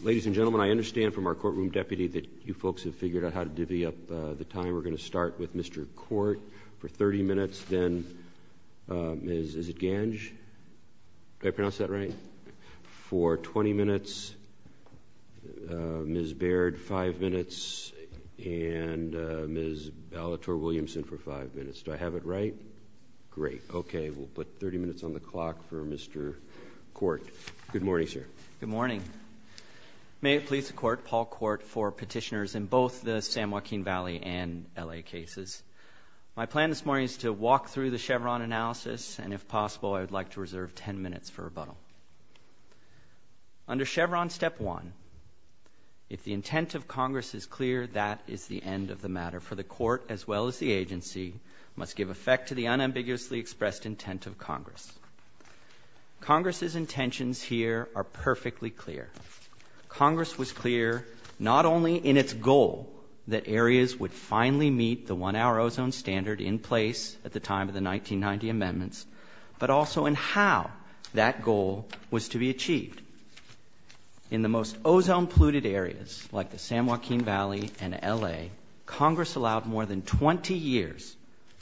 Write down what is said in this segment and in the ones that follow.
Ladies and gentlemen, I understand from our courtroom deputy that you folks have figured out how to divvy up the time. We're going to start with Mr. Court for 30 minutes, then Ms. Baird for 5 minutes, and Ms. Ballatore-Williamson for 5 minutes. Do I have it right? Great. Okay, we'll put 30 minutes on the clock for Mr. Court. Good morning, sir. Good morning. May it please the Court, Paul Court, for petitioners in both the San Joaquin Valley and L.A. cases. My plan this morning is to walk through the Chevron analysis, and if possible, I'd like to reserve 10 minutes for rebuttal. Under Chevron Step 1, if the intent of Congress is clear, that is the end of the matter, for the Court, as well as the agency, must give effect to the unambiguously expressed intent of Congress. Congress's intentions here are perfectly clear. Congress was clear not only in its goal that areas would finally meet the one-hour ozone standard in place at the time of the 1990 amendments, but also in how that goal was to be achieved. In the most ozone-polluted areas, like the San Joaquin Valley and L.A., Congress allowed more than 20 years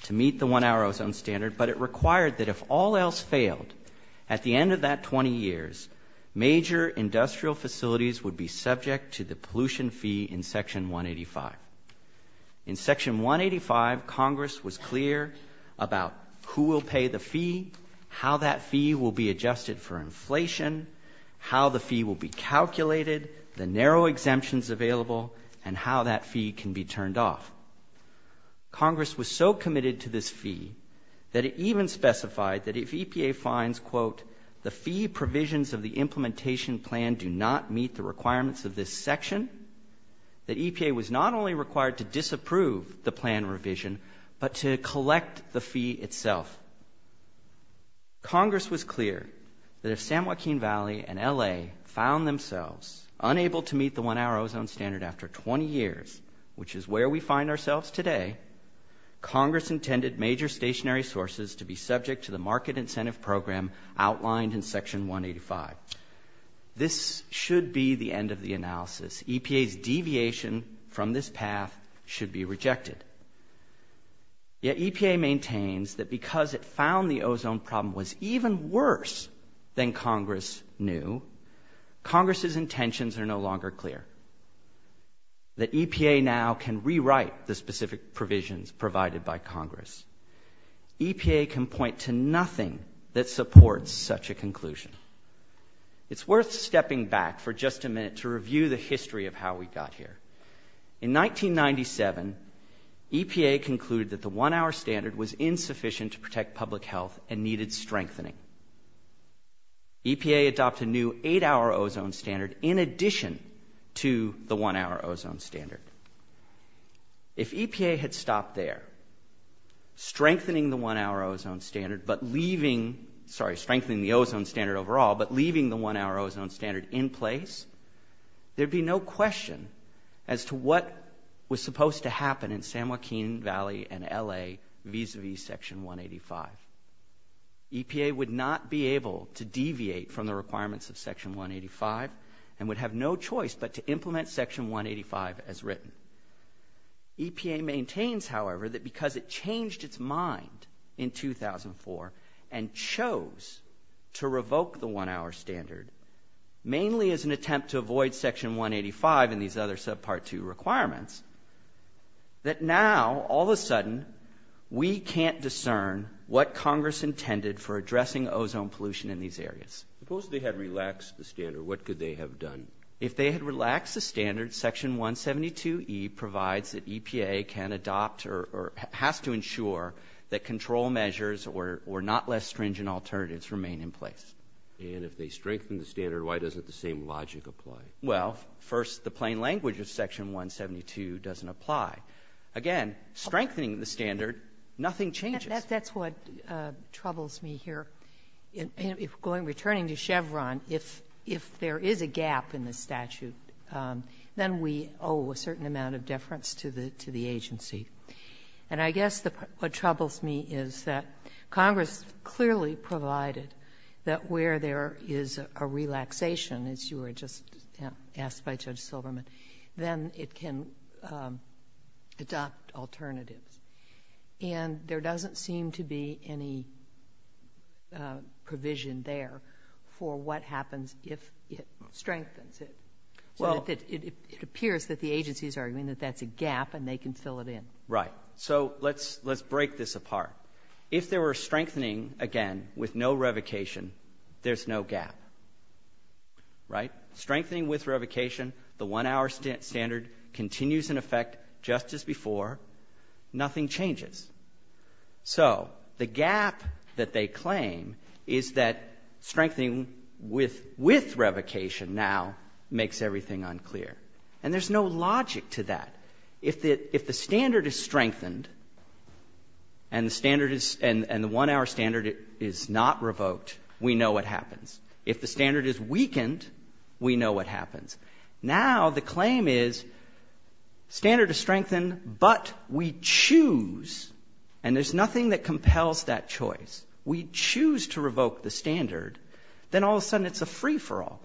to meet the one-hour ozone standard, but it required that if all else failed, at the end of that 20 years, major industrial facilities would be subject to the pollution fee in Section 185. In Section 185, Congress was clear about who will pay the fee, how that fee will be adjusted for inflation, how the fee will be calculated, the narrow exemptions available, and how that Congress was so committed to this fee that it even specified that if EPA finds, quote, the fee provisions of the implementation plan do not meet the requirements of this section, that EPA was not only required to disapprove the plan revision, but to collect the fee itself. Congress was clear that if San Joaquin Valley and L.A. found themselves unable to meet the requirements today, Congress intended major stationary sources to be subject to the market incentive program outlined in Section 185. This should be the end of the analysis. EPA's deviation from this path should be rejected. Yet EPA maintains that because it found the ozone problem was even worse than Congress knew, Congress's intentions are no longer clear, that EPA now can rewrite the specific provisions provided by Congress. EPA can point to nothing that supports such a conclusion. It's worth stepping back for just a minute to review the history of how we got here. In 1997, EPA concluded that the one-hour standard was insufficient to protect public health and needed strengthening. EPA adopted a new eight-hour ozone standard in addition to the one-hour ozone standard. If EPA had stopped there, strengthening the one-hour ozone standard, but leaving, sorry, strengthening the ozone standard overall, but leaving the one-hour ozone standard in place, there'd be no question as to what was supposed to happen in San Joaquin Valley and L.A. vis-a-vis Section 185. EPA would not be able to deviate from the requirements of Section 185 and would have no choice but to implement Section 185 as written. EPA maintains, however, that because it changed its mind in 2004 and chose to revoke the one-hour standard, mainly as an attempt to avoid Section 185 and these other subpart two requirements, that now, all of a sudden, we can't discern what Congress intended for addressing ozone pollution in these areas. Suppose they had relaxed the standard. What could they have done? If they had relaxed the standard, Section 172E provides that EPA can adopt or has to ensure that control measures or not less stringent alternatives remain in place. And if they strengthen the standard, why doesn't the same logic apply? Well, first, the plain language of Section 172 doesn't apply. Again, strengthening the standard, nothing changes. That's what troubles me here. If going returning to Chevron, if there is a gap in the statute, then we owe a certain amount of deference to the agency. And I guess what troubles me is that Congress clearly provided that where there is a relaxation as you were just asked by Judge Silverman, then it can adopt alternatives. And there doesn't seem to be any provision there for what happens if it strengthens it. So it appears that the agency is arguing that that's a gap and they can fill it in. Right. So let's break this apart. If there were strengthening, again, with no revocation, there's no gap. Right. Strengthening with revocation, the one-hour standard continues in effect just as before. Nothing changes. So the gap that they claim is that strengthening with revocation now makes everything unclear. And there's no logic to that. If the standard is strengthened and the one-hour standard is not revoked, we know what happens. If the standard is weakened, we know what happens. Now the claim is standard is strengthened, but we choose. And there's nothing that compels that choice. We choose to revoke the standard. Then all of a sudden, it's a free-for-all.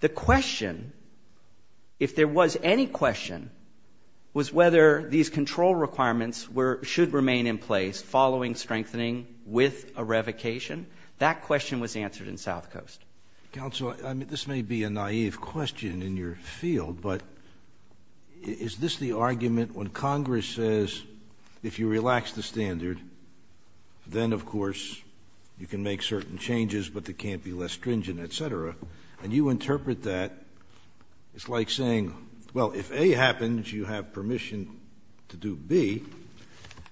The question, if there was any question, was whether these control requirements should remain in place following strengthening with a revocation. That question was answered in South Coast. Counsel, I mean, this may be a naive question in your field, but is this the argument when Congress says, if you relax the standard, then, of course, you can make certain changes, but they can't be less stringent, et cetera. And you interpret that. It's like saying, well, if A happens, you have permission to do B.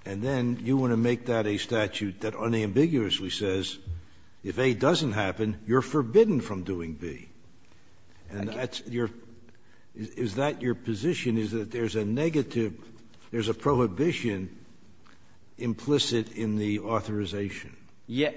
And then you want to make that a statute that unambiguously says, if A doesn't happen, you're forbidden from doing B. And is that your position, is that there's a negative, there's a prohibition implicit in the authorization?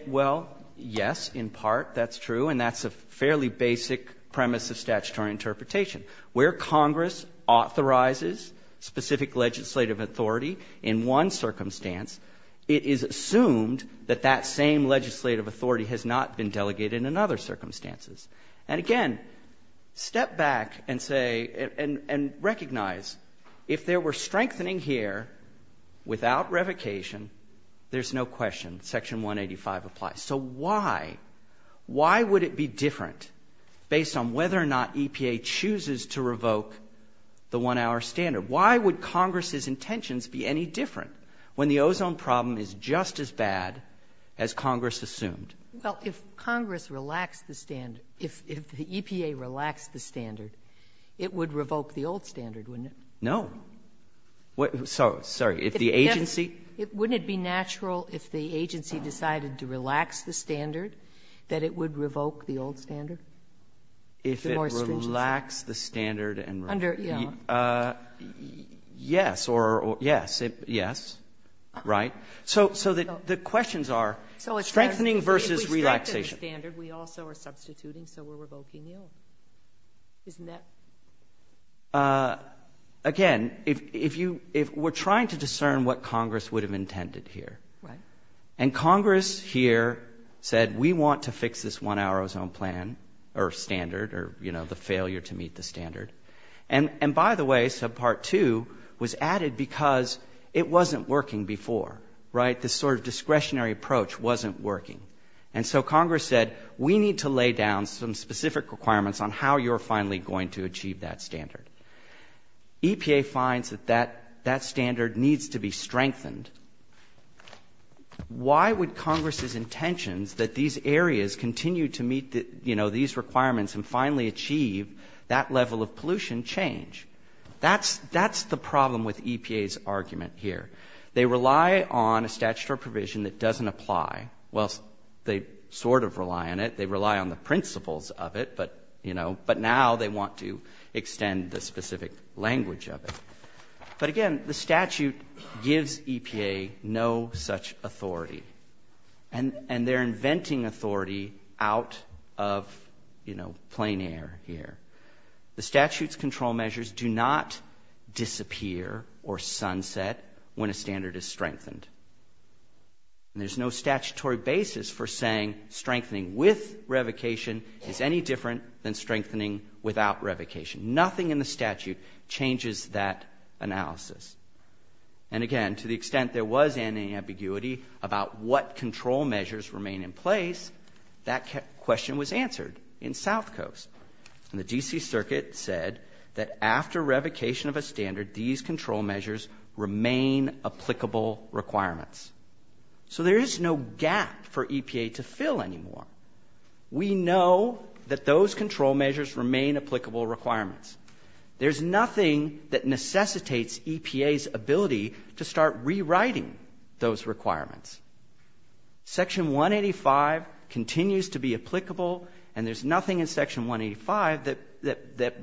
Well, yes, in part. That's true. And that's a fairly basic premise of statutory interpretation. Where Congress authorizes specific legislative authority in one circumstance, it is assumed that that same legislative authority has not been delegated in other circumstances. And again, step back and say, and recognize, if there were strengthening here without revocation, there's no question. Section 185 applies. So why, why would it be different based on whether or not EPA chooses to revoke the one hour standard? Why would Congress's intentions be any different when the ozone problem is just as bad as Congress assumed? Well, if Congress relaxed the standard, if the EPA relaxed the standard, it would revoke the old standard, wouldn't it? No. So, sorry, if the agency? Wouldn't it be natural if the agency decided to relax the standard, that it would revoke the old standard? If it relaxed the standard? Yes, or yes, yes. Right. So the questions are strengthening versus relaxation. If we strengthen the standard, we also are substituting, so we're revoking the old. Isn't that? Right. Again, if you, if we're trying to discern what Congress would have intended here. Right. And Congress here said, we want to fix this one hour ozone plan or standard or, you know, the failure to meet the standard. And by the way, subpart two was added because it wasn't working before, right? This sort of discretionary approach wasn't working. And so Congress said, we need to lay down some specific requirements on how you're going to achieve that standard. EPA finds that that standard needs to be strengthened. Why would Congress's intentions that these areas continue to meet these requirements and finally achieve that level of pollution change? That's the problem with EPA's argument here. They rely on a statutory provision that doesn't apply. Well, they sort of rely on it. They rely on the principles of it. But now they want to extend the specific language of it. But again, the statute gives EPA no such authority. And they're inventing authority out of, you know, plain air here. The statute's control measures do not disappear or sunset when a standard is strengthened. And there's no statutory basis for saying strengthening with revocation is any than strengthening without revocation. Nothing in the statute changes that analysis. And again, to the extent there was any ambiguity about what control measures remain in place, that question was answered in South Coast. And the D.C. Circuit said that after revocation of a standard, these control measures remain applicable requirements. So there is no gap for EPA to fill anymore. We know that those control measures remain applicable requirements. There's nothing that necessitates EPA's ability to start rewriting those requirements. Section 185 continues to be applicable. And there's nothing in Section 185 that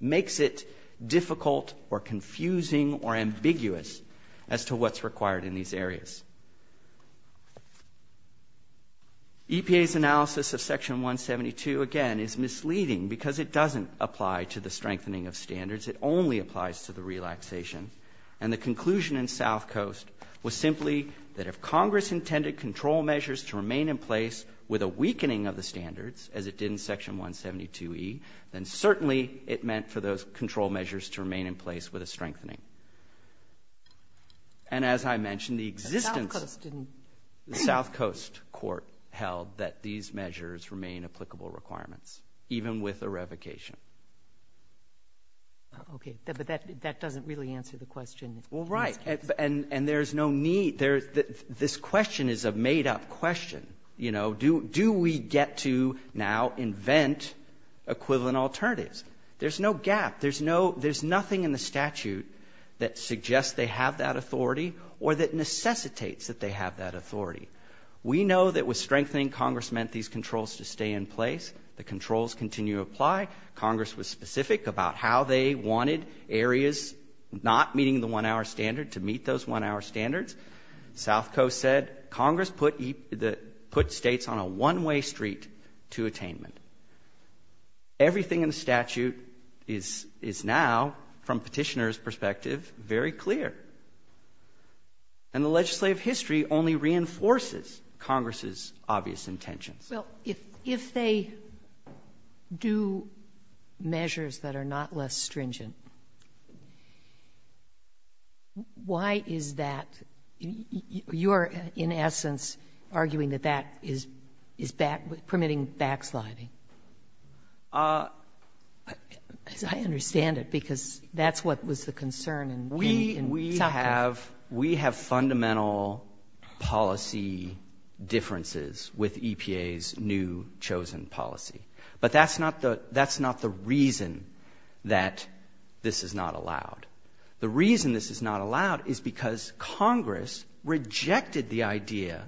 makes it difficult or confusing or ambiguous as to what's required in these areas. EPA's analysis of Section 172, again, is misleading because it doesn't apply to the strengthening of standards. It only applies to the relaxation. And the conclusion in South Coast was simply that if Congress intended control measures to remain in place with a weakening of the standards, as it did in Section 172e, then certainly it meant for those control measures to remain in place with a strengthening. And as I mentioned, the existence of the South Coast Court held that these measures remain applicable requirements, even with a revocation. Okay. But that doesn't really answer the question. Well, right. And there's no need. There's this question is a made-up question, you know, do we get to now invent equivalent alternatives? There's no, there's nothing in the statute that says, that suggests they have that authority or that necessitates that they have that authority. We know that with strengthening, Congress meant these controls to stay in place. The controls continue to apply. Congress was specific about how they wanted areas not meeting the one-hour standard to meet those one-hour standards. South Coast said Congress put states on a one-way street to attainment. Everything in the statute is now, from Petitioner's perspective, very clear. And the legislative history only reinforces Congress's obvious intentions. Well, if they do measures that are not less stringent, why is that? You're, in essence, arguing that that is permitting backsliding. I understand it because that's what was the concern in South Coast. We have fundamental policy differences with EPA's new chosen policy. But that's not the reason that this is not allowed. The reason this is not allowed is because Congress rejected the idea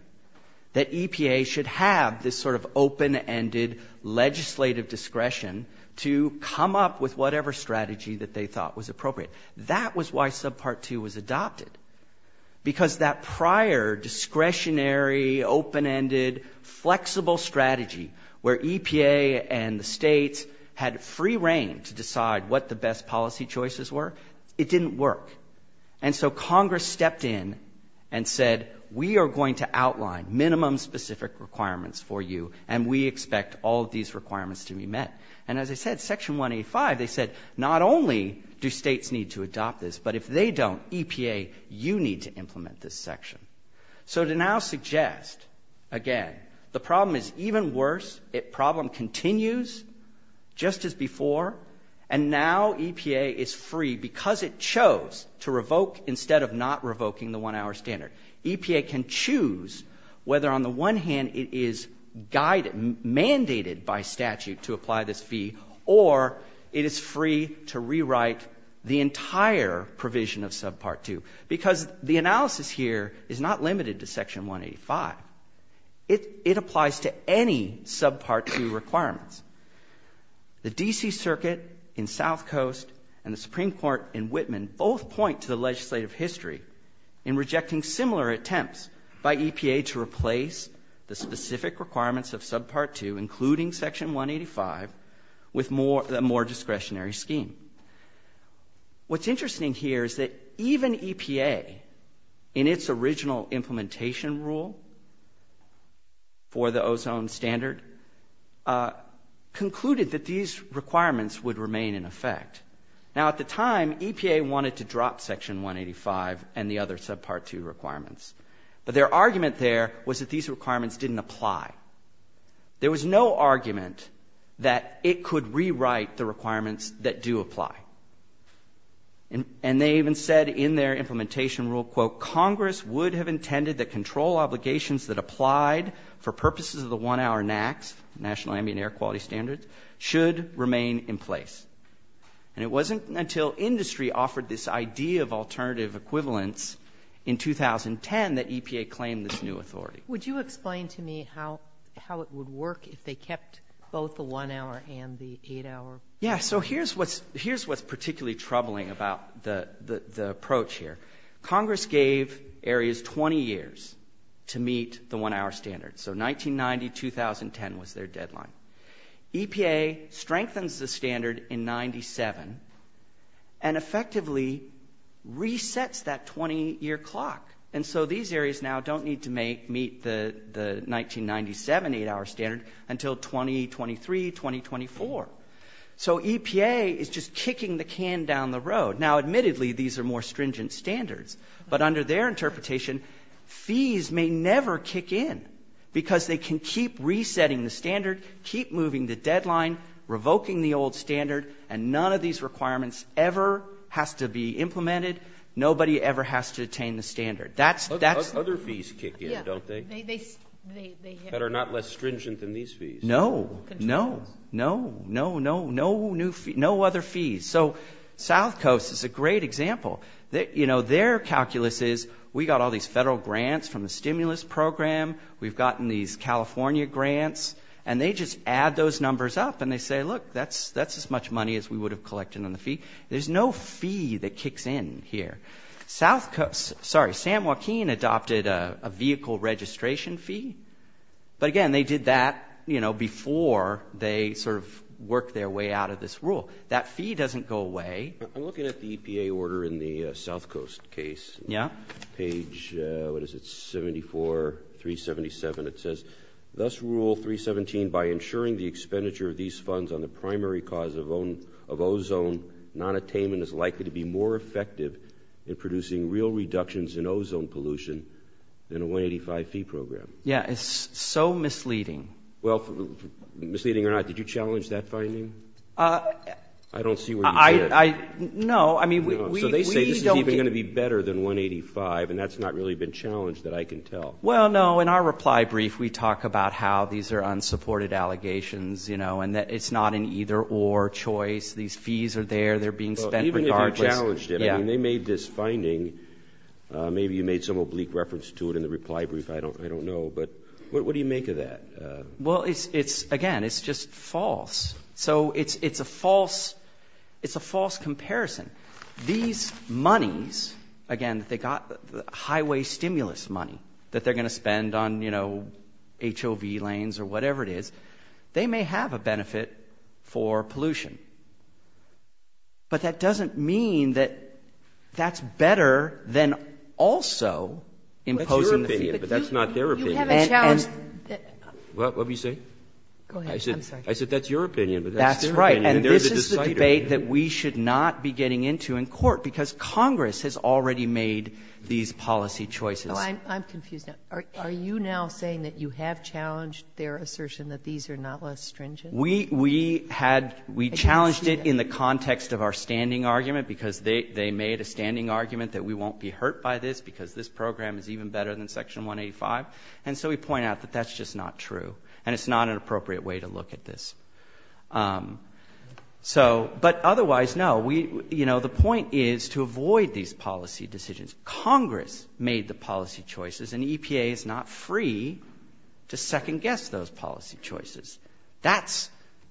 that EPA should have this sort of open-ended legislative discretion to come up with whatever strategy that they thought was appropriate. That was why Subpart 2 was adopted. Because that prior discretionary, open-ended, flexible strategy where EPA and the states had free reign to decide what the best policy choices were, it didn't work. And so Congress stepped in and said, we are going to outline minimum specific requirements for you, and we expect all of these requirements to be met. And as I said, Section 185, they said, not only do states need to adopt this, but if they don't, EPA, you need to implement this section. So to now suggest, again, the problem is even worse. Problem continues just as before, and now EPA is free because it chose to revoke instead of not revoking the one-hour standard. EPA can choose whether, on the one hand, it is guided, mandated by statute to apply this fee, or it is free to rewrite the entire provision of Subpart 2. Because the analysis here is not limited to Section 185. It applies to any Subpart 2 requirements. The D.C. Circuit in South Coast and the Supreme Court in Whitman both point to the legislative history in rejecting similar attempts by EPA to replace the specific requirements of Subpart 2, including Section 185, with a more discretionary scheme. What's interesting here is that even EPA, in its original implementation rule for the ozone standard, concluded that these requirements would remain in effect. Now, at the time, EPA wanted to drop Section 185 and the other Subpart 2 requirements. But their argument there was that these requirements didn't apply. There was no argument that it could rewrite the requirements that do apply. And they even said in their implementation rule, quote, Congress would have intended that control obligations that applied for purposes of the one-hour NAAQS, National Ambient Air Quality Standards, should remain in place. And it wasn't until industry offered this idea of alternative equivalence in 2010 that EPA claimed this new authority. Would you explain to me how it would work if they kept both the one-hour and the eight-hour? Yeah. So here's what's particularly troubling about the approach here. Congress gave areas 20 years to meet the one-hour standard. So 1990, 2010 was their deadline. EPA strengthens the standard in 97 and effectively resets that 20-year clock. And so these areas now don't need to meet the 1997 eight-hour standard until 2023, 2024. So EPA is just kicking the can down the road. Now, admittedly, these are more stringent standards. But under their interpretation, fees may never kick in because they can keep resetting the standard, keep moving the deadline, revoking the old standard, and none of these requirements ever has to be implemented. Nobody ever has to attain the standard. Other fees kick in, don't they? That are not less stringent than these fees. No, no, no, no, no, no other fees. So South Coast is a great example. Their calculus is, we got all these federal grants from the stimulus program. We've gotten these California grants. And they just add those numbers up and they say, look, that's as much money as we would have collected on the fee. There's no fee that kicks in here. South Coast, sorry, Sam Joaquin adopted a vehicle registration fee. But again, they did that before they sort of worked their way out of this rule. That fee doesn't go away. I'm looking at the EPA order in the South Coast case. Yeah. Page, what is it, 74, 377. It says, thus Rule 317, by ensuring the expenditure of these funds on the primary cause of ozone nonattainment is likely to be more effective in producing real reductions in ozone pollution than a 185 fee program. Yeah, it's so misleading. Well, misleading or not, did you challenge that finding? I don't see where you said. No, I mean, we don't. So they say this is even going to be better than 185. And that's not really been challenged that I can tell. Well, no, in our reply brief, we talk about how these are unsupported allegations, you know, and that it's not an either or choice. These fees are there. Even if you challenged it, I mean, they made this finding. Maybe you made some oblique reference to it in the reply brief. I don't know. But what do you make of that? Well, it's again, it's just false. So it's a false comparison. These monies, again, they got highway stimulus money that they're going to spend on, you know, HOV lanes or whatever it is. They may have a benefit for pollution. But that doesn't mean that that's better than also imposing the fee. That's your opinion, but that's not their opinion. You haven't challenged that. Well, what did you say? Go ahead. I'm sorry. I said that's your opinion, but that's their opinion. That's right. And this is the debate that we should not be getting into in court because Congress has already made these policy choices. So I'm confused now. Are you now saying that you have challenged their assertion that these are not less stringent? We had, we challenged it in the context of our standing argument because they made a standing argument that we won't be hurt by this because this program is even better than Section 185. And so we point out that that's just not true. And it's not an appropriate way to look at this. So, but otherwise, no, we, you know, the point is to avoid these policy decisions. Congress made the policy choices and EPA is not free to second guess those policy choices. That's,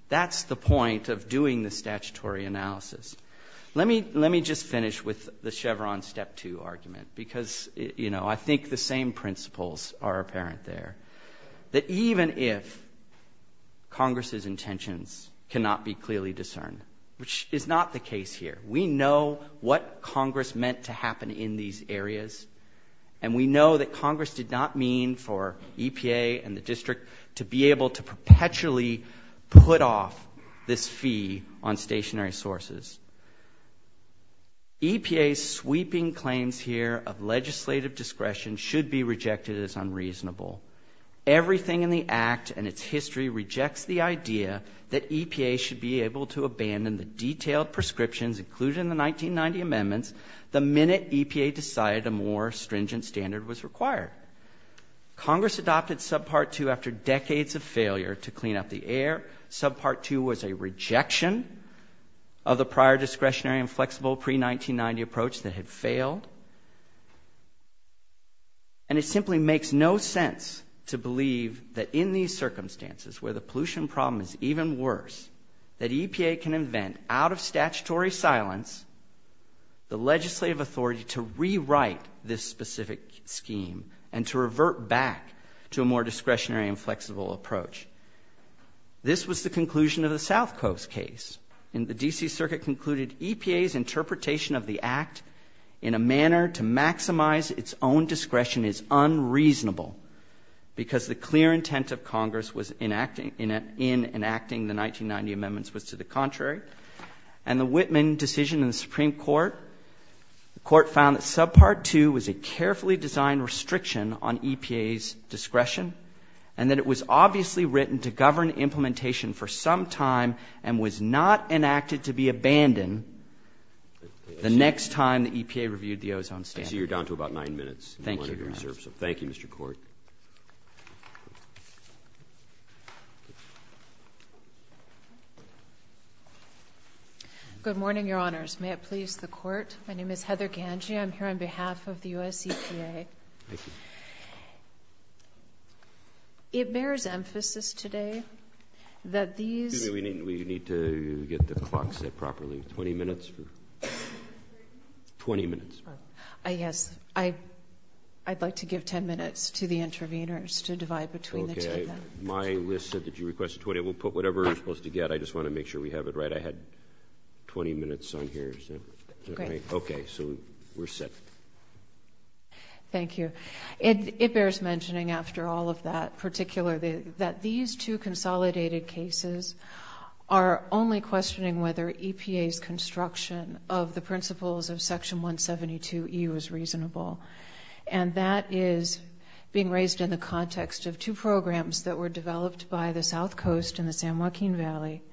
that's the point of doing the statutory analysis. Let me, let me just finish with the Chevron step two argument, because, you know, I think the same principles are apparent there. That even if Congress's intentions cannot be clearly discerned, which is not the case here, we know what Congress meant to happen in these areas. And we know that Congress did not mean for EPA and the district to be able to perpetually put off this fee on stationary sources. EPA's sweeping claims here of legislative discretion should be rejected as unreasonable. Everything in the act and its history rejects the idea that EPA should be able to abandon the detailed prescriptions included in the 1990 amendments the minute EPA decided a more stringent standard was required. Congress adopted subpart two after decades of failure to clean up the air. Subpart two was a rejection of the prior discretionary and flexible pre-1990 approach that had failed. And it simply makes no sense to believe that in these circumstances where the pollution problem is even worse, that EPA can invent, out of statutory silence, the legislative authority to rewrite this specific scheme and to revert back to a more discretionary and flexible approach. This was the conclusion of the South Coast case. And the D.C. Circuit concluded EPA's interpretation of the act in a manner to maximize its own in enacting the 1990 amendments was to the contrary. And the Whitman decision in the Supreme Court, the Court found that subpart two was a carefully designed restriction on EPA's discretion and that it was obviously written to govern implementation for some time and was not enacted to be abandoned the next time the EPA reviewed the ozone standard. I see you're down to about nine minutes. Thank you, Your Honor. Thank you, Mr. Court. Good morning, Your Honors. May it please the Court? My name is Heather Gange. I'm here on behalf of the U.S. EPA. It bears emphasis today that these— Excuse me, we need to get the clock set properly. Twenty minutes? Twenty minutes. Yes, I'd like to give ten minutes to the interveners to divide between the two of them. My list said that you requested 20. We'll put whatever you're supposed to get. I just want to make sure we have it right. I had 20 minutes on here. Okay, so we're set. Thank you. And it bears mentioning after all of that particularly that these two consolidated cases are only questioning whether EPA's construction of the principles of Section 172E was reasonable. And that is being raised in the context of two programs that were developed by the South Coast and the San Joaquin Valley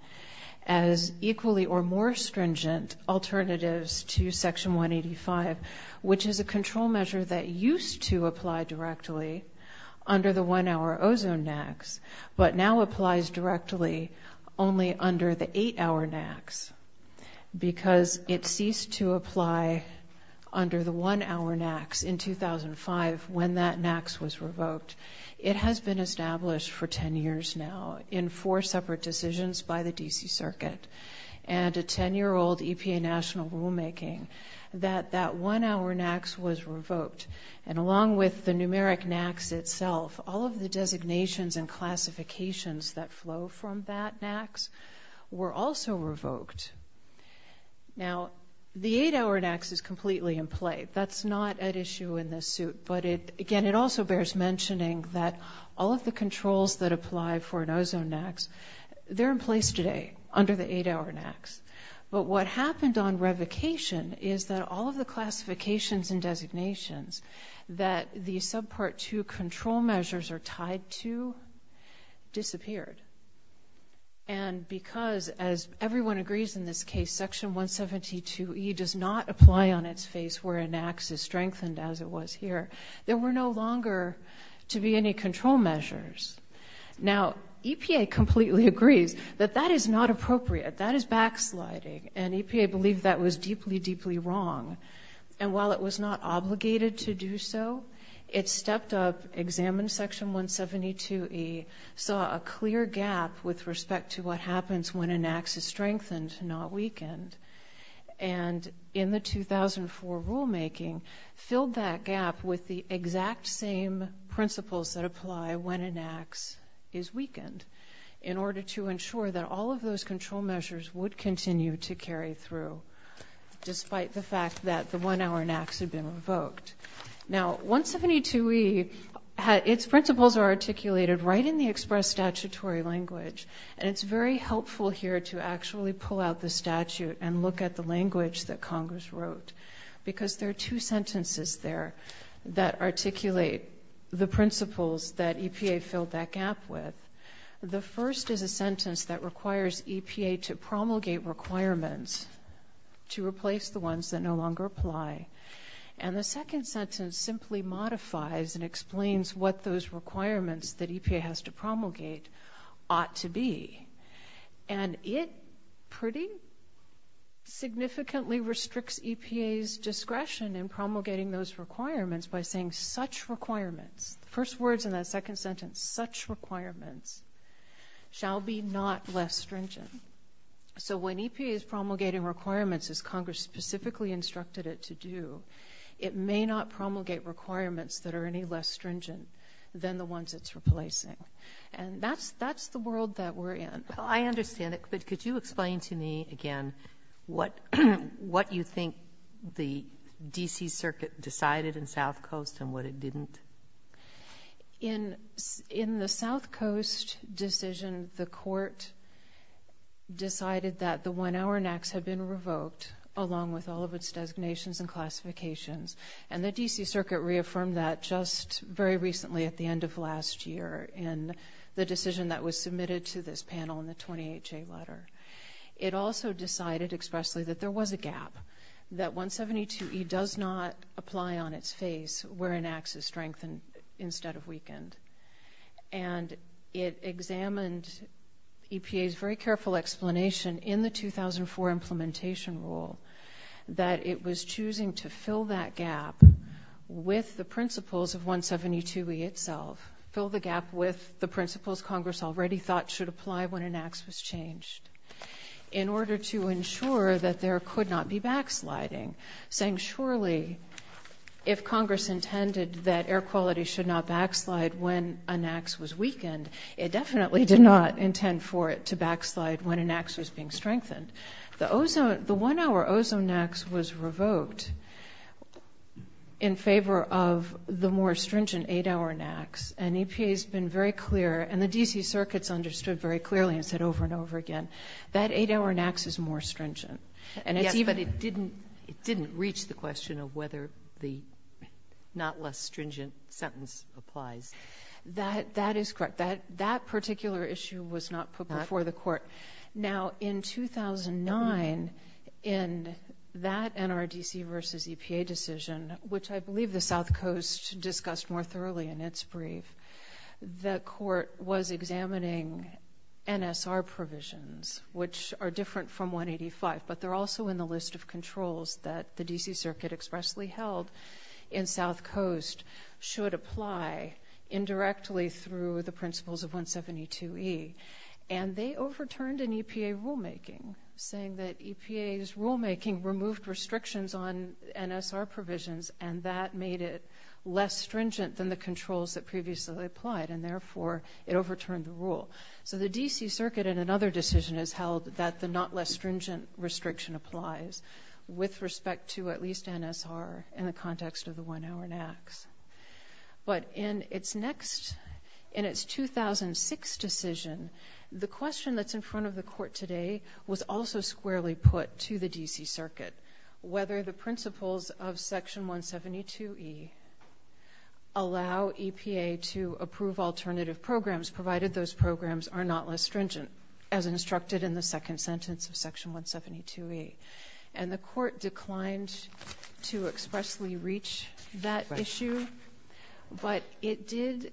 as equally or more stringent alternatives to Section 185, which is a control measure that used to apply directly under the one-hour ozone NACs, but now applies directly only under the eight-hour NACs because it ceased to apply under the one-hour NACs in 2005 when that NACs was revoked. It has been established for ten years now in four separate decisions by the D.C. Circuit and a ten-year-old EPA national rulemaking that that one-hour NACs was revoked. And along with the numeric NACs itself, all of the designations and classifications that flow from that NACs were also revoked. Now, the eight-hour NACs is completely in play. That's not at issue in this suit. But again, it also bears mentioning that all of the controls that apply for an ozone NACs, they're in place today under the eight-hour NACs. But what happened on revocation is that all of the classifications and designations that the subpart two control measures are tied to disappeared. And because, as everyone agrees in this case, section 172E does not apply on its face where an NACs is strengthened as it was here. There were no longer to be any control measures. Now, EPA completely agrees that that is not appropriate. That is backsliding. And EPA believed that was deeply, deeply wrong. And while it was not obligated to do so, it stepped up, examined section 172E, saw a clear gap with respect to what happens when an NACs is strengthened, not weakened. And in the 2004 rulemaking, filled that gap with the exact same principles that apply when an NACs is weakened in order to ensure that all of those control measures would continue to carry through, despite the fact that the one-hour NACs had been revoked. Now, 172E, its principles are articulated right in the express statutory language. And it's very helpful here to actually pull out the statute and look at the language that Congress wrote. Because there are two sentences there that articulate the principles that EPA filled that gap with. The first is a sentence that requires EPA to promulgate requirements to replace the ones that no longer apply. And the second sentence simply modifies and explains what those requirements that EPA has to promulgate ought to be. And it pretty significantly restricts EPA's discretion in promulgating those requirements by saying, such requirements, first words in that second sentence, such requirements shall be not less stringent. So when EPA is promulgating requirements as Congress specifically instructed it to do, it may not promulgate requirements that are any less stringent than the ones it's replacing. And that's the world that we're in. Well, I understand it. But could you explain to me again what you think the D.C. Circuit decided in South Coast and what it didn't? In the South Coast decision, the court decided that the one-hour NACS had been revoked along with all of its designations and classifications. And the D.C. Circuit reaffirmed that just very recently at the end of last year in the decision that was submitted to this panel in the 28-J letter. It also decided expressly that there was a gap, that 172E does not apply on its face where a NACS is strengthened instead of weakened. And it examined EPA's very careful explanation in the 2004 implementation rule that it was choosing to fill that gap with the principles of 172E itself, fill the gap with the principles Congress already thought should apply when a NACS was changed in order to ensure that there could not be backsliding, saying surely if Congress intended that air quality should not backslide when a NACS was weakened, it definitely did not intend for it to backslide when a NACS was being strengthened. The one-hour ozone NACS was revoked in favor of the more stringent eight-hour NACS. And EPA's been very clear and the D.C. Circuit's understood very clearly and said over and over again that eight-hour NACS is more stringent. Yes, but it didn't reach the question of whether the not less stringent sentence applies. That is correct. That particular issue was not put before the court. Now, in 2009, in that NRDC versus EPA decision, which I believe the South Coast discussed more thoroughly in its brief, the court was examining NSR provisions, which are different from 185, but they're also in the list of controls that the D.C. Circuit expressly held in South Coast should apply indirectly through the principles of 172E. And they overturned an EPA rulemaking saying that EPA's rulemaking removed restrictions on and therefore it overturned the rule. So the D.C. Circuit in another decision has held that the not less stringent restriction applies with respect to at least NSR in the context of the one-hour NACS. But in its next, in its 2006 decision, the question that's in front of the court today was also squarely put to the D.C. Circuit, whether the principles of section 172E allow EPA to approve alternative programs provided those programs are not less stringent, as instructed in the second sentence of section 172E. And the court declined to expressly reach that issue. But it did,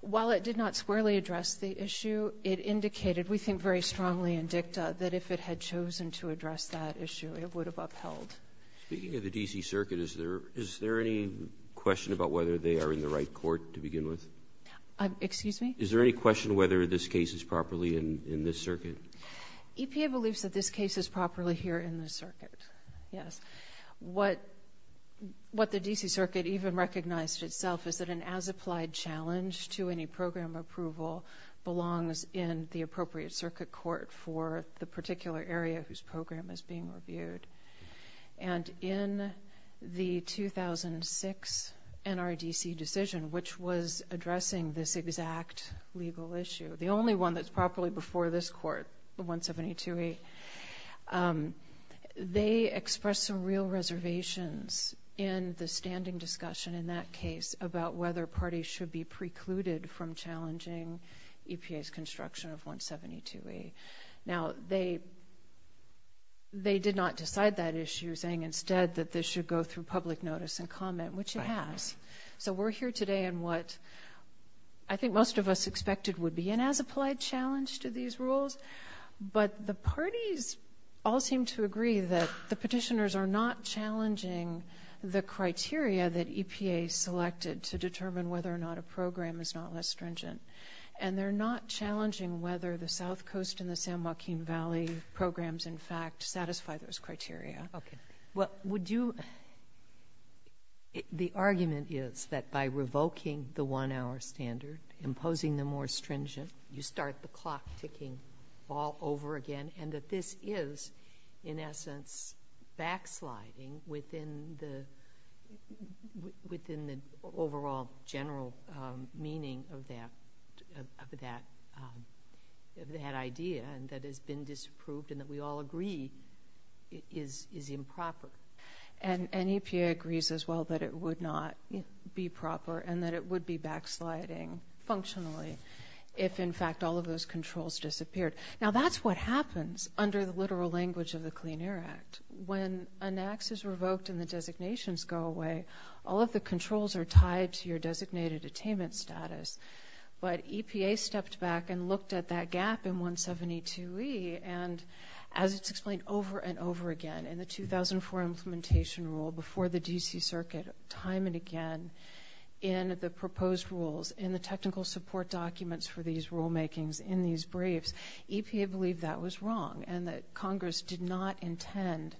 while it did not squarely address the issue, it indicated, we think very strongly in dicta, that if it had chosen to address that issue, it would have upheld. Speaking of the D.C. Circuit, is there any question about whether they are in the right court to begin with? Excuse me? Is there any question whether this case is properly in this circuit? EPA believes that this case is properly here in the circuit, yes. What the D.C. Circuit even recognized itself is that an as-applied challenge to any program approval belongs in the appropriate circuit court for the particular area whose program is being reviewed. And in the 2006 NRDC decision, which was addressing this exact legal issue, the only one that's properly before this court, 172E, they expressed some real reservations in the standing discussion in that case about whether parties should be precluded from challenging EPA's construction of 172E. Now, they did not decide that issue, saying instead that this should go through public notice and comment, which it has. So we're here today in what I think most of us expected would be an as-applied challenge to these rules. But the parties all seem to agree that the petitioners are not challenging the criteria that EPA selected to determine whether or not a program is not less stringent. And they're not challenging whether the South Coast and the San Joaquin Valley programs, in fact, satisfy those criteria. Okay. Well, would you – the argument is that by revoking the one-hour standard, imposing the more stringent, you start the clock ticking all over again, and that this is, in essence, backsliding within the overall general meaning of that. Of that idea that has been disapproved and that we all agree is improper. And EPA agrees as well that it would not be proper and that it would be backsliding functionally if, in fact, all of those controls disappeared. Now, that's what happens under the literal language of the Clean Air Act. When an act is revoked and the designations go away, all of the controls are tied to your designated attainment status. But EPA stepped back and looked at that gap in 172E, and as it's explained over and over again, in the 2004 implementation rule before the D.C. Circuit time and again, in the proposed rules, in the technical support documents for these rulemakings, in these briefs, EPA believed that was wrong and that Congress did not intend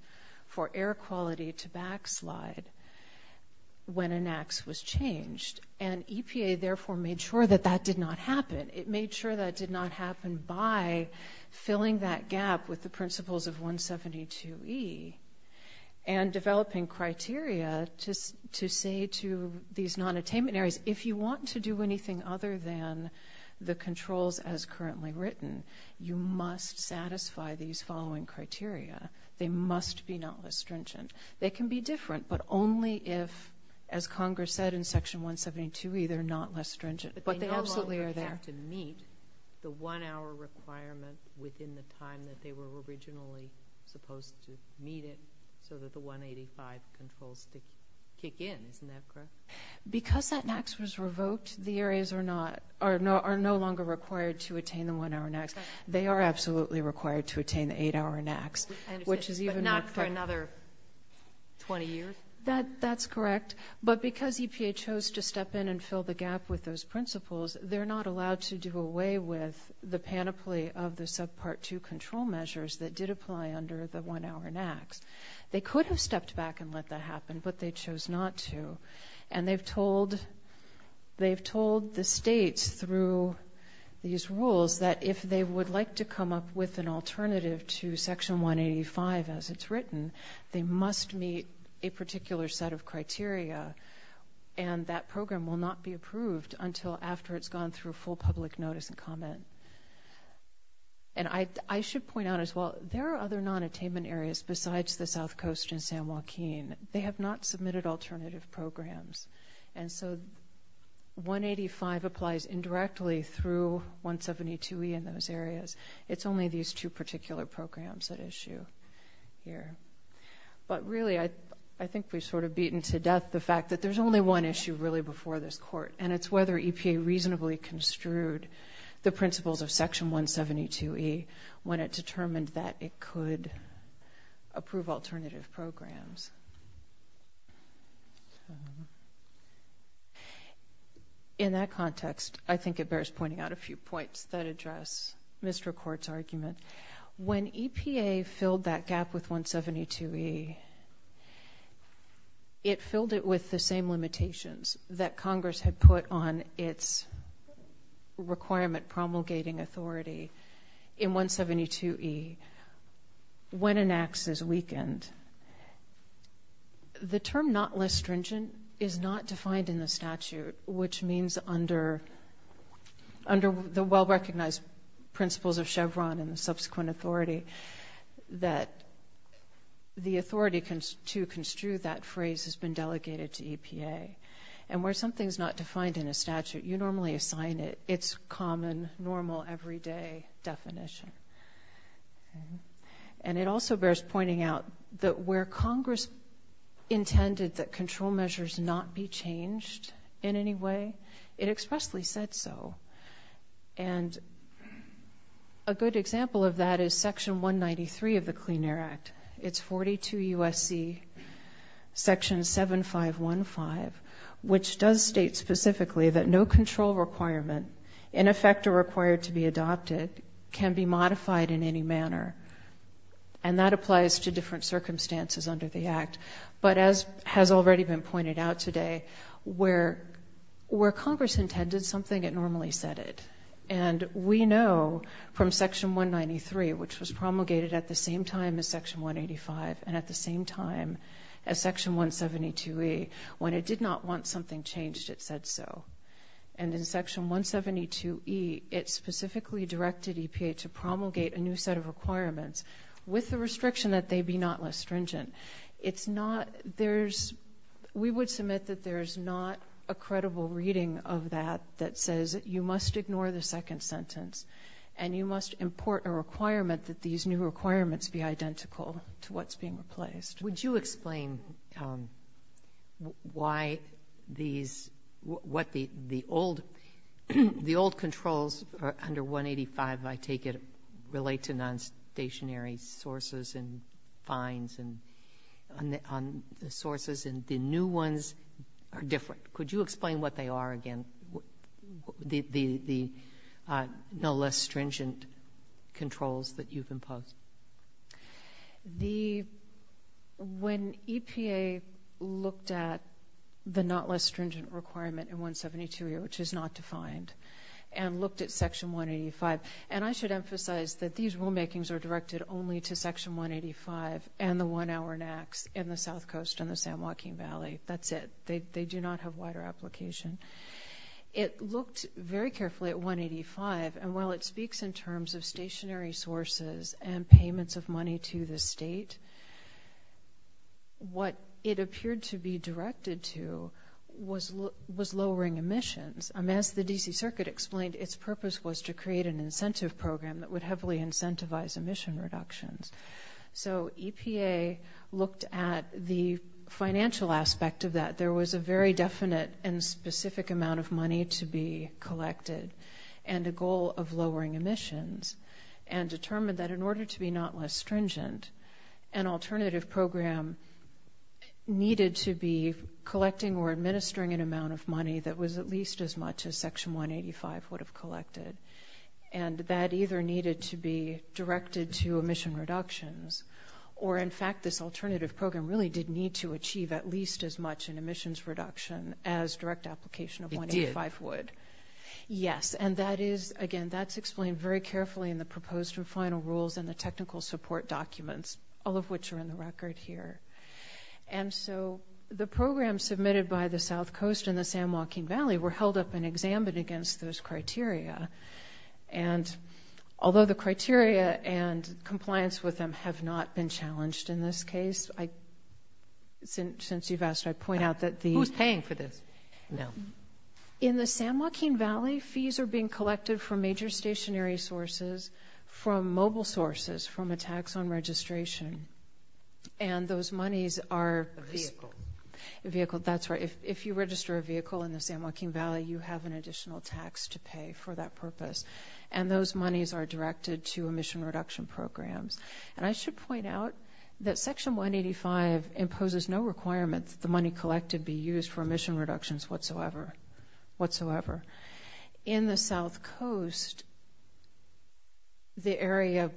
for air quality to backslide when an act was changed. And EPA, therefore, made sure that that did not happen. It made sure that did not happen by filling that gap with the principles of 172E and developing criteria to say to these non-attainment areas, if you want to do anything other than the controls as currently written, you must satisfy these following criteria. They must be not restringent. They can be different, but only if, as Congress said in Section 172E, they're not less stringent. But they absolutely are there. But they no longer have to meet the one-hour requirement within the time that they were originally supposed to meet it so that the 185 controls could kick in. Isn't that correct? Because that NAAQS was revoked, the areas are no longer required to attain the one-hour NAAQS. They are absolutely required to attain the eight-hour NAAQS, not for another 20 years. That's correct. But because EPA chose to step in and fill the gap with those principles, they're not allowed to do away with the panoply of the subpart 2 control measures that did apply under the one-hour NAAQS. They could have stepped back and let that happen, but they chose not to. And they've told the states through these rules that if they would like to come up with an alternative to Section 185 as it's written, they must meet a particular set of criteria. And that program will not be approved until after it's gone through full public notice and comment. And I should point out as well, there are other non-attainment areas besides the South Coast and San Joaquin. They have not submitted alternative programs. And so 185 applies indirectly through 172E in those areas. It's only these two particular programs that issue here. But really, I think we've sort of beaten to death the fact that there's only one issue really before this court, and it's whether EPA reasonably construed the principles of Section 172E when it determined that it could approve alternative programs. In that context, I think it bears pointing out a few points that address Mr. Court's argument. When EPA filled that gap with 172E, it filled it with the same limitations that Congress had put on its requirement promulgating authority in 172E. When an act is weakened, and the term not less stringent is not defined in the statute, which means under the well-recognized principles of Chevron and the subsequent authority that the authority to construe that phrase has been delegated to EPA. And where something's not defined in a statute, you normally assign it its common, normal, everyday definition. And it also bears pointing out that where Congress intended that control measures not be changed in any way, it expressly said so. And a good example of that is Section 193 of the Clean Air Act. It's 42 U.S.C. Section 7515, which does state specifically that no control requirement, in effect, are required to be adopted, can be modified in any manner. And that applies to different circumstances under the act. But as has already been pointed out today, where Congress intended something, it normally said it. And we know from Section 193, which was promulgated at the same time as Section 185 and at the same time as Section 172E, when it did not want something changed, it said so. And in Section 172E, it specifically directed EPA to promulgate a new set of requirements with the restriction that they be not less stringent. We would submit that there's not a credible reading of that that says you must ignore the second sentence and you must import a requirement that these new requirements be identical to what's being replaced. Would you explain why these, what the old, the old controls under 185, I take it, relate to non-stationary sources and fines and on the sources and the new ones are different. Could you explain what they are again, the no less stringent controls that you've imposed? The, when EPA looked at the not less stringent requirement in 172E, which is not defined, and looked at Section 185, and I should emphasize that these rulemakings are directed only to Section 185 and the one hour NACs in the South Coast and the San Joaquin Valley. That's it. They do not have wider application. It looked very carefully at 185. And while it speaks in terms of stationary sources and payments of money to the state, what it appeared to be directed to was lowering emissions. As the D.C. Circuit explained, its purpose was to create an incentive program that would heavily incentivize emission reductions. So EPA looked at the financial aspect of that. There was a very definite and specific amount of money to be collected and a goal of lowering emissions and determined that in order to be not less stringent, an alternative program needed to be collecting or administering an amount of money that was at least as much as Section 185 would have collected. And that either needed to be directed to emission reductions or in fact, this alternative program really did need to achieve at least as much in emissions reduction as direct application of 185 would. It did. Yes. And that is, again, that's explained very carefully in the proposed and final rules and the technical support documents, all of which are in the record here. And so the program submitted by the South Coast and the San Joaquin Valley were held up and examined against those criteria. And although the criteria and compliance with them have not been challenged in this case, since you've asked, I point out that the- Who's paying for this? No. In the San Joaquin Valley, fees are being collected from major stationary sources, from mobile sources, from a tax on registration. And those monies are- A vehicle. A vehicle, that's right. If you register a vehicle in the San Joaquin Valley, you have an additional tax to pay for that purpose. And those monies are directed to emission reduction programs. And I should point out that Section 185 imposes no requirement that the money collected be used for emission reductions whatsoever. Whatsoever. In the South Coast, the area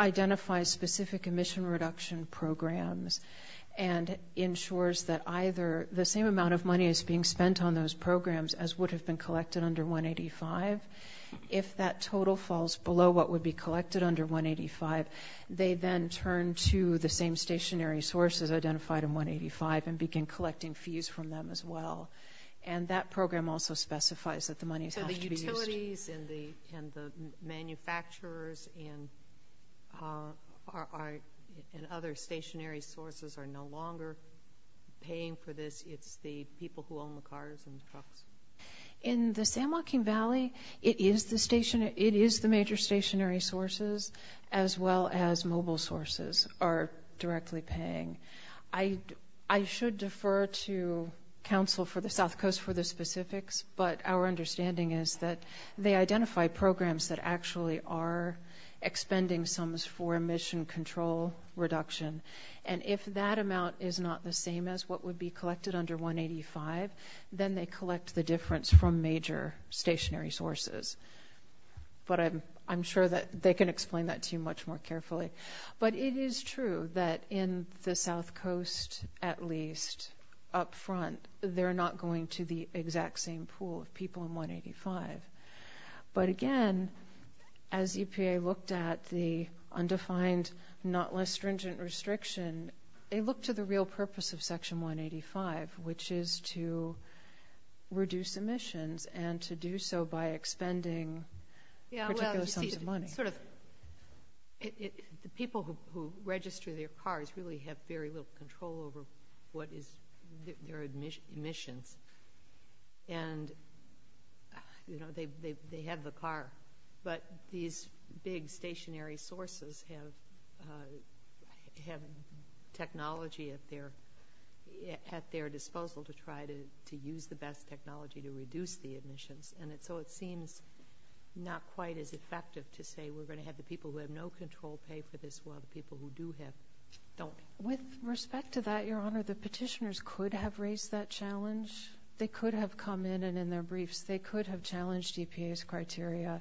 identifies specific emission reduction programs and ensures that either the same amount of money is being spent on those programs as would have been collected under 185. If that total falls below what would be collected under 185, they then turn to the same stationary sources identified in 185 and begin collecting fees from them as well. And that program also specifies that the monies have to be used- So the utilities and the manufacturers and other stationary sources are no longer paying for this. It's the people who own the cars and trucks. In the San Joaquin Valley, it is the major stationary sources as well as mobile sources are directly paying. I should defer to Council for the South Coast for the specifics, but our understanding is that they identify programs that actually are expending sums for emission control reduction. And if that amount is not the same as what would be collected under 185, then they collect the difference from major stationary sources. But I'm sure that they can explain that to you much more carefully. But it is true that in the South Coast, at least up front, they're not going to the exact same pool of people in 185. But again, as EPA looked at the undefined, not less stringent restriction, they look to the real purpose of Section 185, which is to reduce emissions and to do so by expending particular sums of money. Sort of the people who register their cars really have very little control over what is their emissions. And they have the car, but these big stationary sources have technology at their disposal to try to use the best technology to reduce the emissions. And so it seems not quite as effective to say we're going to have the people who have no control pay for this while the people who do have don't. With respect to that, Your Honor, the petitioners could have raised that challenge. They could have come in and in their briefs, they could have challenged EPA's criteria.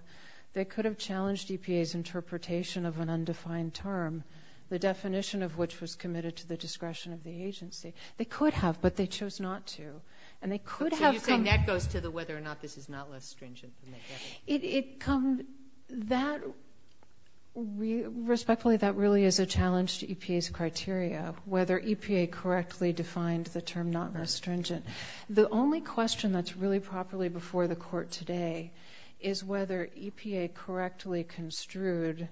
They could have challenged EPA's interpretation of an undefined term, the definition of which was committed to the discretion of the agency. They could have, but they chose not to. And they could have come- So you're saying that goes to the whether or not this is not less stringent than they have? It comes, that, respectfully, that really is a challenge to EPA's criteria, whether EPA correctly defined the term not less stringent. The only question that's really properly before the court today is whether EPA correctly construed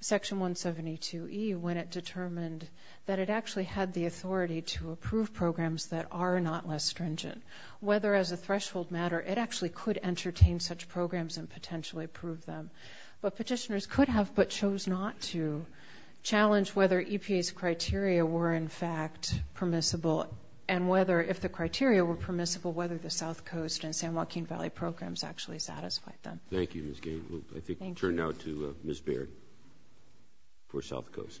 Section 172E when it determined that it actually had the authority to approve programs that are not less stringent. Whether as a threshold matter, it actually could entertain such programs and potentially approve them. But petitioners could have, but chose not to, challenge whether EPA's criteria were, in fact, permissible and whether, if the criteria were permissible, whether the South Coast and San Joaquin Valley programs actually satisfied them. Thank you, Ms. Gale. I think we'll turn now to Ms. Baird for South Coast.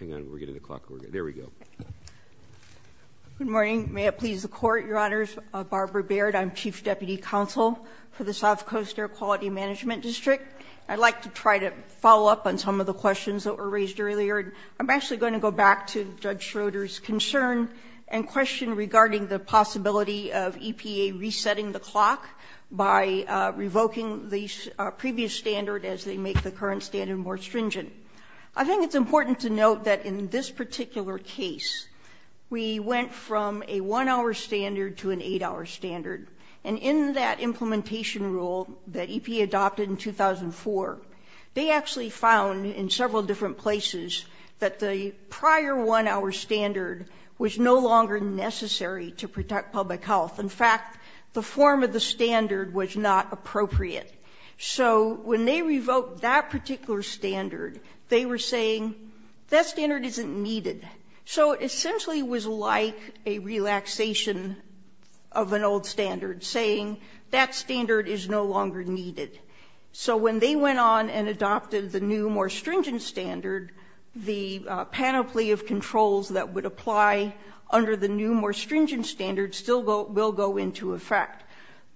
Hang on, we're getting the clock working. There we go. Good morning. May it please the court, Your Honors, Barbara Baird. I'm Chief Deputy Counsel for the South Coast Air Quality Management District. I'd like to try to follow up on some of the questions that were raised earlier. I'm actually going to go back to Judge Schroeder's concern and question regarding the possibility of EPA resetting the clock by revoking the previous standard as they make the current standard more stringent. I think it's important to note that in this particular case, we went from a one-hour standard to an eight-hour standard. And in that implementation rule that EPA adopted in 2004, they actually found in several different places that the prior one-hour standard was no longer necessary to protect public health. In fact, the form of the standard was not appropriate. So when they revoked that particular standard, they were saying, that standard isn't needed. So it essentially was like a relaxation of an old standard, saying that standard is no longer needed. So when they went on and adopted the new, more stringent standard, the panoply of controls that would apply under the new, more stringent standard still will go into effect.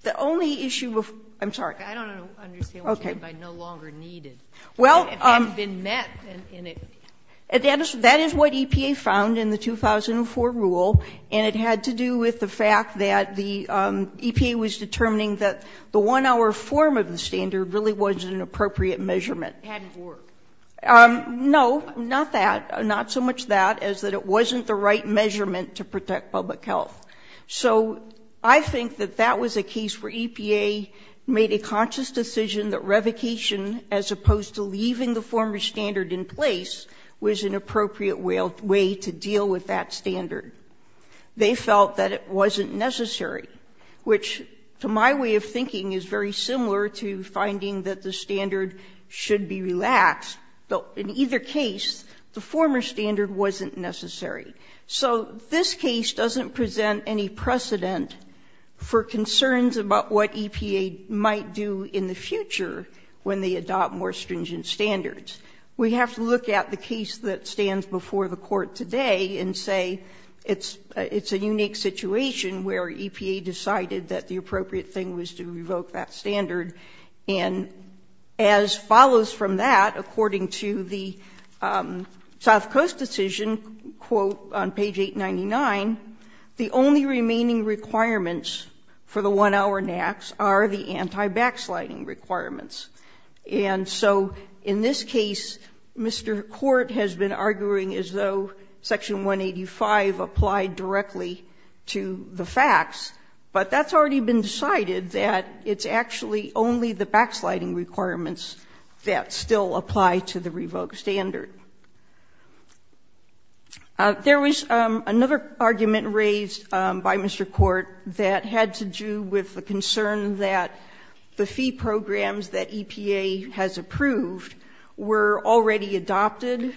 The only issue of... I'm sorry. I don't understand what you mean by no longer needed. Well... That is what EPA found in the 2004 rule. And it had to do with the fact that the EPA was determining that the one-hour form of the standard really wasn't an appropriate measurement. It hadn't worked. No, not that. Not so much that, as that it wasn't the right measurement to protect public health. So I think that that was a case where EPA made a conscious decision that revocation, as opposed to leaving the former standard in place, was an appropriate way to deal with that standard. They felt that it wasn't necessary, which, to my way of thinking, is very similar to finding that the standard should be relaxed. But in either case, the former standard wasn't necessary. So this case doesn't present any precedent for concerns about what EPA might do in the future when they adopt more stringent standards. We have to look at the case that stands before the Court today and say it's a unique situation where EPA decided that the appropriate thing was to revoke that standard. And as follows from that, according to the South Coast decision, quote on page 899, the only remaining requirements for the one-hour NAAQS are the anti-backsliding requirements. And so in this case, Mr. Court has been arguing as though Section 185 applied directly to the facts, but that's already been decided that it's actually only the backsliding requirements that still apply to the revoked standard. There was another argument raised by Mr. Court that had to do with the concern that the fee programs that EPA has approved were already adopted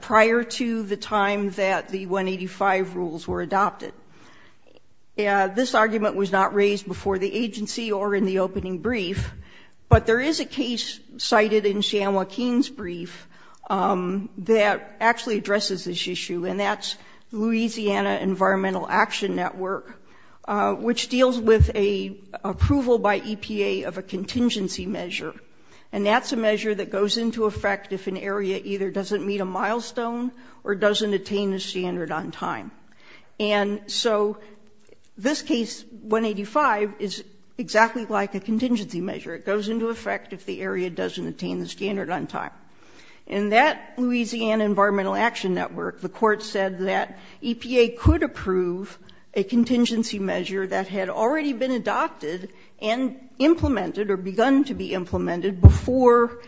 prior to the time that the 185 rules were adopted. This argument was not raised before the agency or in the opening brief, but there is a case cited in Shan Joaquin's brief that actually addresses this issue, and that's Louisiana Environmental Action Network. Which deals with a approval by EPA of a contingency measure, and that's a measure that goes into effect if an area either doesn't meet a milestone or doesn't attain the standard on time. And so this case, 185, is exactly like a contingency measure. It goes into effect if the area doesn't attain the standard on time. In that Louisiana Environmental Action Network, the court said that EPA could approve a contingency measure that had already been adopted and implemented or begun to be implemented before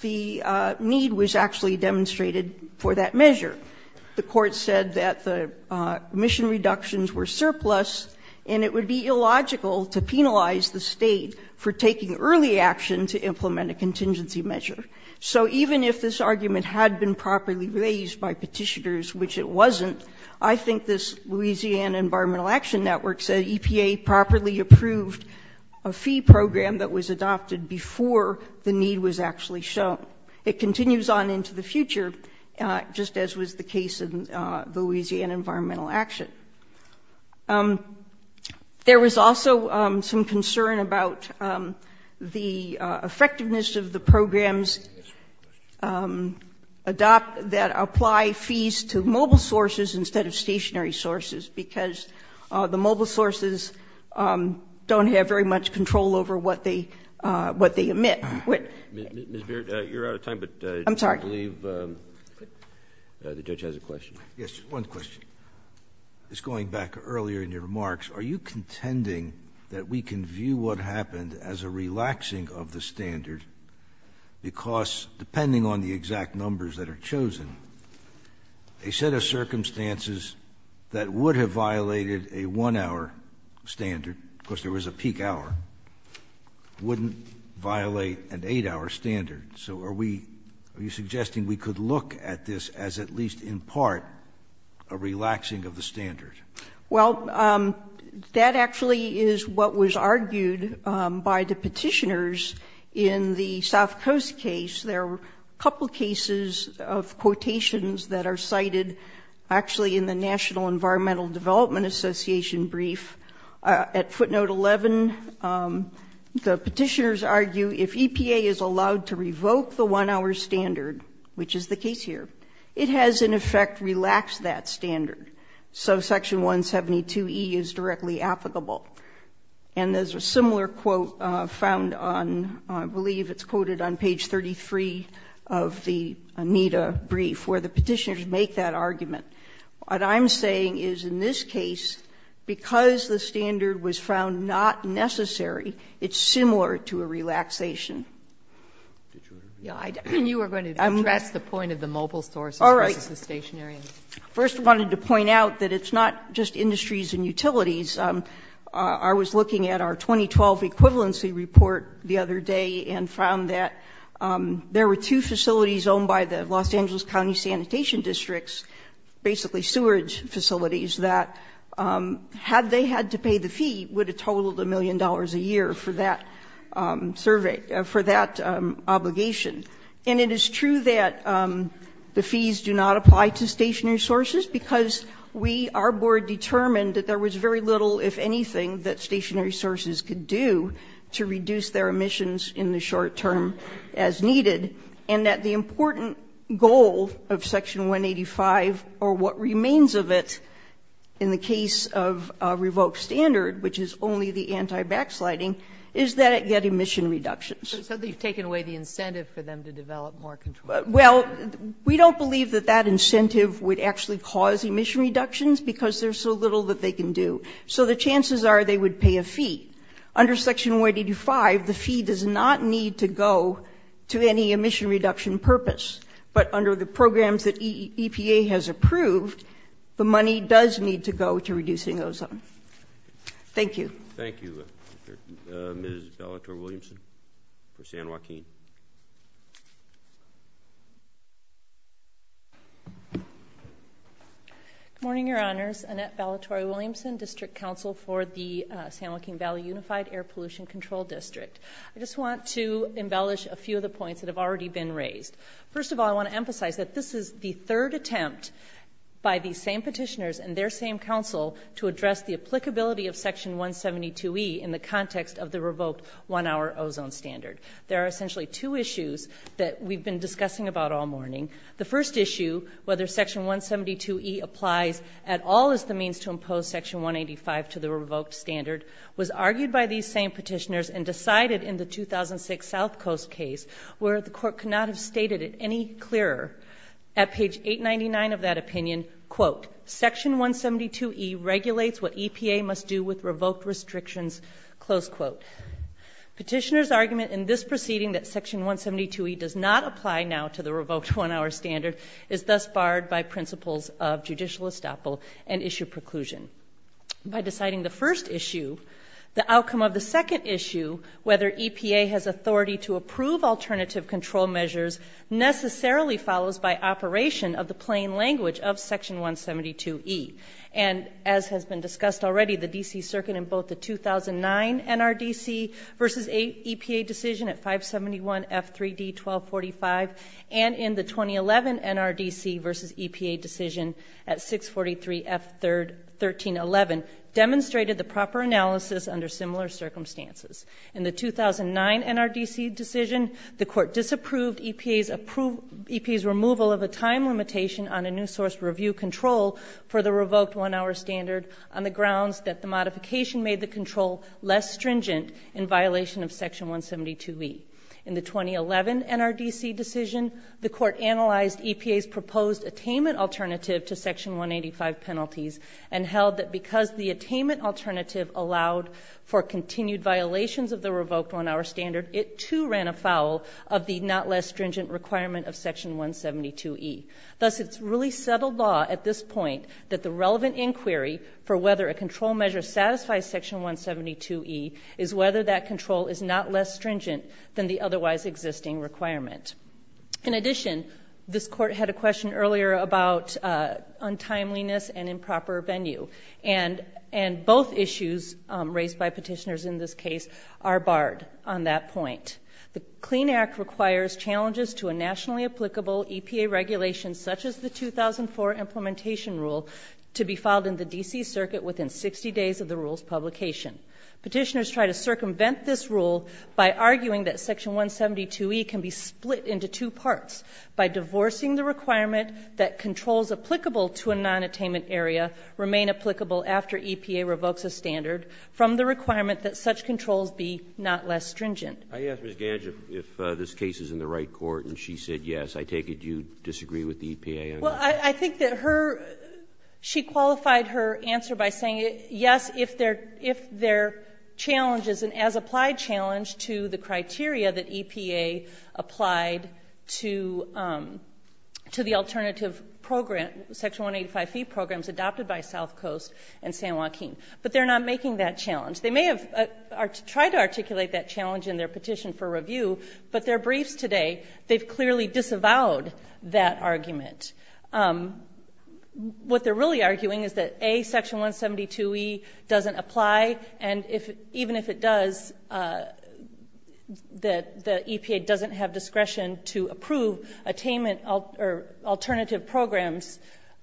the need was actually demonstrated for that measure. The court said that the emission reductions were surplus, and it would be illogical to penalize the state for taking early action to implement a contingency measure. So even if this argument had been properly raised by petitioners, which it wasn't, I think this Louisiana Environmental Action Network said EPA properly approved a fee program that was adopted before the need was actually shown. It continues on into the future, just as was the case in Louisiana Environmental Action. There was also some concern about the effectiveness of the programs that apply fees to mobile sources instead of stationary sources, because the mobile sources don't have very much control over what they emit. Ms. Beard, you're out of time, but I believe the judge has a question. Yes, one question. Just going back earlier in your remarks, are you contending that we can view what happened as a relaxing of the standard because depending on the exact numbers that are chosen, a set of circumstances that would have violated a one-hour standard, because there was a peak hour, wouldn't violate an eight-hour standard. So are you suggesting we could look at this as at least in part a relaxing of the standard? Well, that actually is what was argued by the petitioners in the South Coast case. There were a couple of cases of quotations that are cited actually in the National Environmental Development Association brief. At footnote 11, the petitioners argue if EPA is allowed to revoke the one-hour standard, which is the case here, it has in effect relaxed that standard. So section 172E is directly applicable. And there's a similar quote found on, I believe it's quoted on page 33 of the AMITA brief, where the petitioners make that argument. What I'm saying is in this case, because the standard was found not necessary, it's similar to a relaxation. Yeah, you were going to address the point of the mobile stores versus the stationary. First, I wanted to point out that it's not just industries and utilities. I was looking at our 2012 equivalency report the other day and found that there were two facilities owned by the Los Angeles County Sanitation Districts, basically sewage facilities, that had they had to pay the fee, would have totaled a million dollars a year for that survey, for that obligation. And it is true that the fees do not apply to stationary sources because we, our board determined that there was very little, if anything, that stationary sources could do to reduce their emissions in the short term. As needed, and that the important goal of Section 185, or what remains of it, in the case of a revoked standard, which is only the anti-backsliding, is that it get emission reductions. So you've taken away the incentive for them to develop more control. Well, we don't believe that that incentive would actually cause emission reductions because there's so little that they can do. So the chances are they would pay a fee. Under Section 185, the fee does not need to go to any emission reduction purpose. But under the programs that EPA has approved, the money does need to go to reducing ozone. Thank you. Thank you, Ms. Bellator-Williamson for San Joaquin. Good morning, your honors. Annette Bellator-Williamson, District Counsel for the San Joaquin Valley Unified Air Pollution Control District. I just want to embellish a few of the points that have already been raised. First of all, I want to emphasize that this is the third attempt by the same petitioners and their same counsel to address the applicability of Section 172E in the context of the revoked one-hour ozone standard. There are essentially two issues that we've been discussing about all morning. The first issue, whether Section 172E applies at all as the means to impose Section 185 to the revoked standard, was argued by these same petitioners and decided in the 2006 South Coast case where the court could not have stated it any clearer at page 899 of that opinion, quote, Section 172E regulates what EPA must do with revoked restrictions, close quote. Petitioners' argument in this proceeding that Section 172E does not apply now to the revoked one-hour standard is thus barred by principles of judicial estoppel and issue preclusion. By deciding the first issue, the outcome of the second issue whether EPA has authority to approve alternative control measures necessarily follows by operation of the plain language of Section 172E. And as has been discussed already, the D.C. Circuit in both the 2009 NRDC versus EPA decision at 571 F3D 1245 and in the 2011 NRDC versus EPA decision at 643 F1311 demonstrated the proper analysis under similar circumstances. In the 2009 NRDC decision, the court disapproved EPA's removal of a time limitation on a new source review control for the revoked one-hour standard on the grounds that the modification made the control less stringent in violation of Section 172E. In the 2011 NRDC decision, the court analyzed EPA's proposed attainment alternative to Section 185 penalties and held that because the attainment alternative allowed for continued violations of the revoked one-hour standard, it too ran afoul of the not less stringent requirement of Section 172E. Thus, it's really settled law at this point that the relevant inquiry for whether a control measure satisfies Section 172E is whether that control is not less stringent than the otherwise existing requirement. In addition, this court had a question earlier about untimeliness and improper venue and both issues raised by petitioners in this case are barred on that point. The CLEAN Act requires challenges to a nationally applicable EPA regulation such as the 2004 implementation rule to be filed in the D.C. Circuit within 60 days of the rule's publication. Petitioners try to circumvent this rule by arguing that Section 172E can be split into two parts by divorcing the requirement that controls applicable to a non-attainment area remain applicable after EPA revokes a standard from the requirement that such controls be not less stringent. I asked Ms. Gange if this case is in the right court and she said yes. I take it you disagree with the EPA? Well, I think that her she qualified her answer by saying yes, if there if there challenges an as-applied challenge to the criteria that EPA applied to to the alternative program Section 185E programs adopted by South Coast and San Joaquin. But they're not making that challenge. They may have tried to articulate that challenge in their petition for review but their briefs today they've clearly disavowed that argument. What they're really arguing is that A, Section 172E doesn't apply and even if it does the EPA doesn't have discretion to approve attainment alternative programs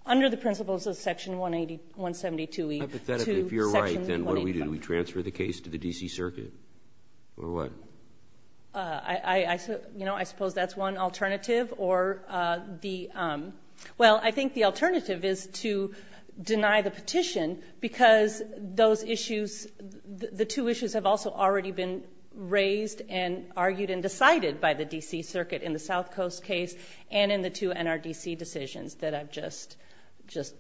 under the principles of Section 172E. Hypothetically, if you're right then what do we do? Do we transfer the case to the D.C. Circuit or what? I suppose that's one alternative or the well, I think the alternative is to deny the petition because those issues the two issues have also already been raised and argued and decided by the D.C. Circuit in the South Coast case and in the two NRDC decisions that I've just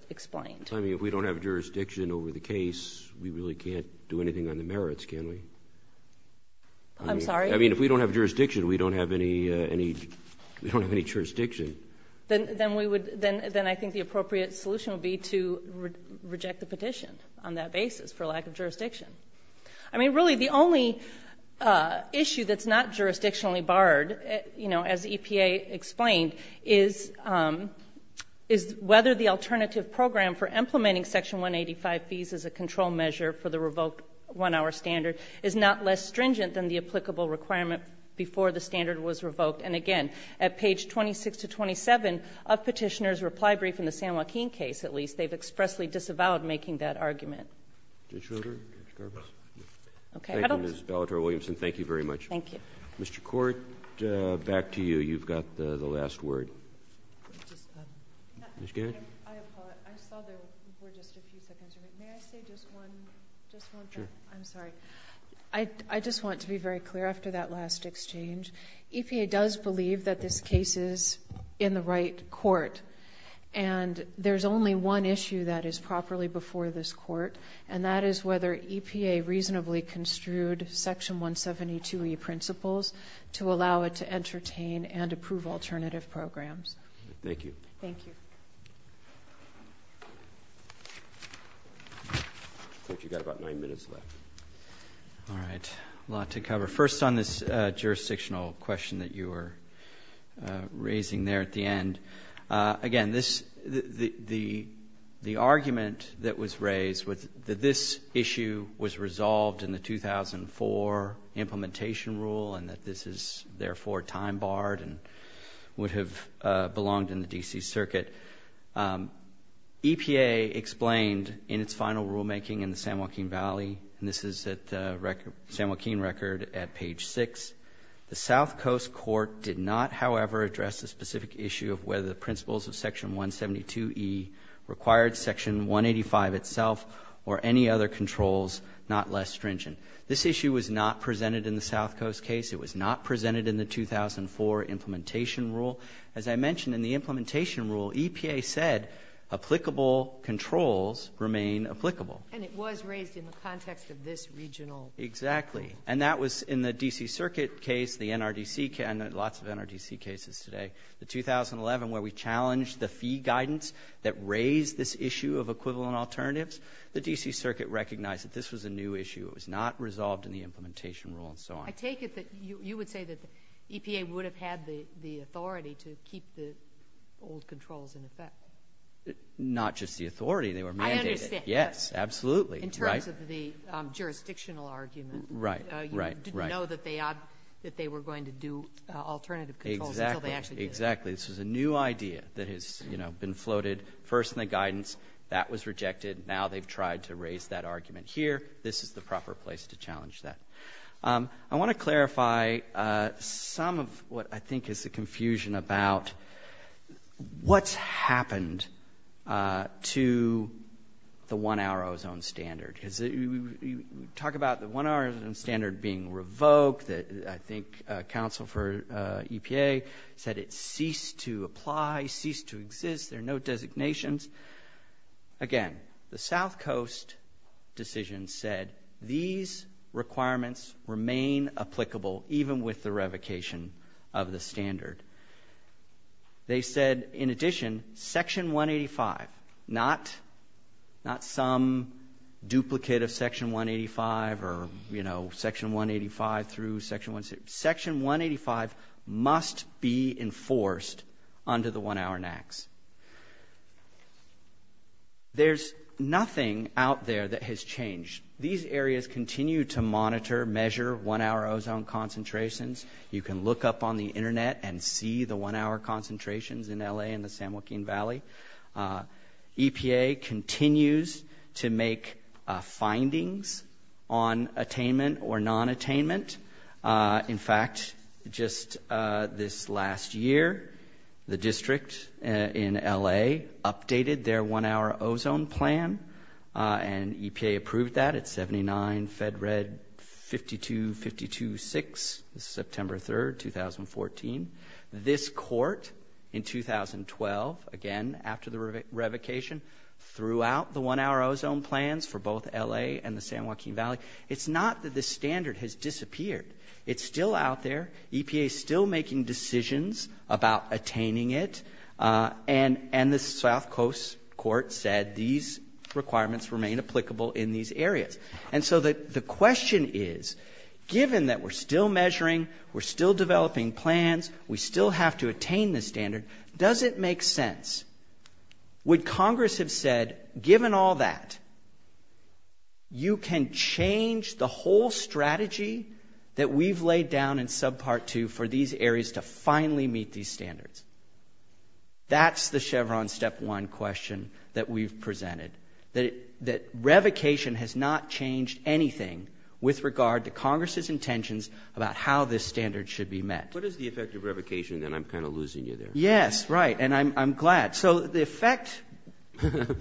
explained. I mean, if we don't have jurisdiction over the case we really can't do anything on the merits, can we? I'm sorry? I mean, if we don't have jurisdiction we don't have any jurisdiction. Then I think the appropriate solution would be to reject the petition on that basis for lack of jurisdiction. I mean, really the only issue that's not jurisdictionally barred as EPA explained is is whether the alternative program for implementing section 185 fees as a control measure for the revoked one-hour standard is not less stringent than the applicable requirement before the standard was revoked. And again, at page 26 to 27 of petitioner's reply brief in the San Joaquin case, at least they've expressly disavowed making that argument. Judge Carter, Judge Garbus. Thank you, Ms. Bellator-Williamson. Thank you very much. Thank you. Mr. Court, back to you. You've got the last word. Ms. Garrett. I just want to be very clear after that last exchange. EPA does believe that this case is in the right court and there's only one issue that is properly before this court and that is whether EPA reasonably construed section 172E principles to allow it to entertain and approve alternative programs. Thank you. Thank you. I think you've got about nine minutes left. All right, a lot to cover. First on this jurisdictional question that you were raising there at the end. Again, the argument that was raised was that this issue was resolved in the 2004 implementation rule and that this is therefore time barred would have belonged in the D.C. circuit. EPA explained in its final rulemaking in the San Joaquin Valley and this is at the San Joaquin record at page six. The South Coast Court did not, however, address the specific issue of whether the principles of section 172E required section 185 itself or any other controls, not less stringent. This issue was not presented in the South Coast case. It was not presented in the 2004 implementation rule. As I mentioned, in the implementation rule, EPA said applicable controls remain applicable. And it was raised in the context of this regional. Exactly. And that was in the D.C. circuit case, the NRDC, lots of NRDC cases today, the 2011 where we challenged the fee guidance that raised this issue of equivalent alternatives. The D.C. circuit recognized that this was a new issue. It was not resolved in the implementation rule and so on. I take it that you would say EPA would have had the authority to keep the old controls in effect. Not just the authority, they were mandated. Yes, absolutely. In terms of the jurisdictional argument. Right, right, right. Didn't know that they were going to do alternative controls. Exactly. This was a new idea that has been floated first in the guidance. That was rejected. Now they've tried to raise that argument here. This is the proper place to challenge that. I want to clarify some of what I think is the confusion about what's happened to the one hour ozone standard. Because you talk about the one hour ozone standard being revoked. I think counsel for EPA said it ceased to apply, ceased to exist. There are no designations. Again, the South Coast decision said these requirements remain applicable even with the revocation of the standard. They said, in addition, section 185, not some duplicate of section 185 or section 185 through section 16. Section 185 must be enforced under the one hour NAAQS. There's nothing out there that has changed. These areas continue to monitor, measure one hour ozone concentrations. You can look up on the internet and see the one hour concentrations in LA and the San Joaquin Valley. EPA continues to make findings on attainment or non-attainment. In fact, just this last year, the district in LA updated their one hour ozone plan. And EPA approved that at 79. Fed read 52, 52, 6. This is September 3, 2014. This court in 2012, again, after the revocation, threw out the one hour ozone plans for both LA and the San Joaquin Valley. It's not that the standard has disappeared. It's still out there. EPA is still making decisions about attaining it. And the South Coast court said these requirements remain applicable in these areas. And so the question is, given that we're still measuring, we're still developing plans, we still have to attain this standard, does it make sense? Would Congress have said, given all that, you can change the whole strategy that we've laid down in subpart two for these areas to finally meet these standards? That's the Chevron step one question that we've presented. That revocation has not changed anything with regard to Congress's intentions about how this standard should be met. What is the effect of revocation? And I'm kind of losing you there. Yes, right. And I'm glad. So the effect,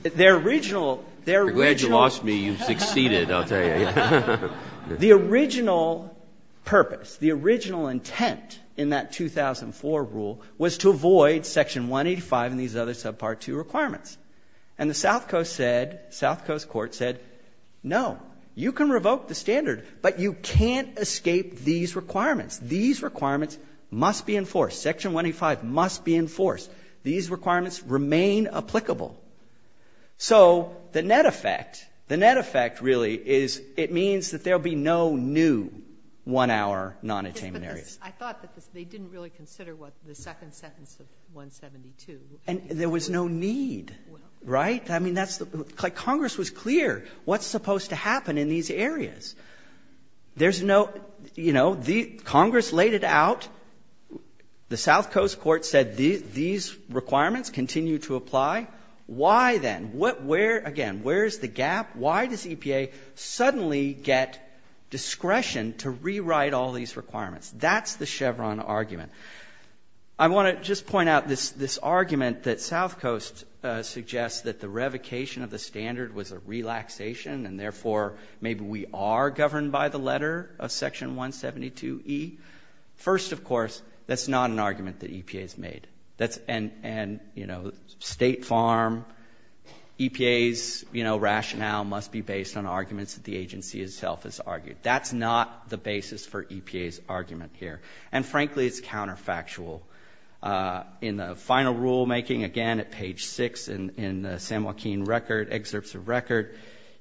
their original, their original... Glad you lost me. You've succeeded, I'll tell you. The original purpose, the original intent in that 2004 rule was to avoid section 185 and these other subpart two requirements. And the South Coast said, South Coast court said, no, you can revoke the standard, but you can't escape these requirements. These requirements must be enforced. Section 185 must be enforced. These requirements remain applicable. So the net effect, the net effect really is it means that there'll be no new one hour non-attainment areas. I thought that they didn't really consider what the second sentence of 172. And there was no need. Right? I mean, that's like Congress was clear what's supposed to happen in these areas. There's no, you know, the Congress laid it out. The South Coast court said these requirements continue to apply. Why then? Again, where's the gap? Why does EPA suddenly get discretion to rewrite all these requirements? That's the Chevron argument. I want to just point out this argument that South Coast suggests that the revocation of the standard was a relaxation. And therefore, maybe we are governed by the letter of section 172E. First, of course, that's not an argument that EPA has made. That's, and, you know, State Farm, EPA's, you know, rationale must be based on arguments that the agency itself has argued. That's not the basis for EPA's argument here. And frankly, it's counterfactual. In the final rulemaking, again, at page six in the San Joaquin record, excerpts of record,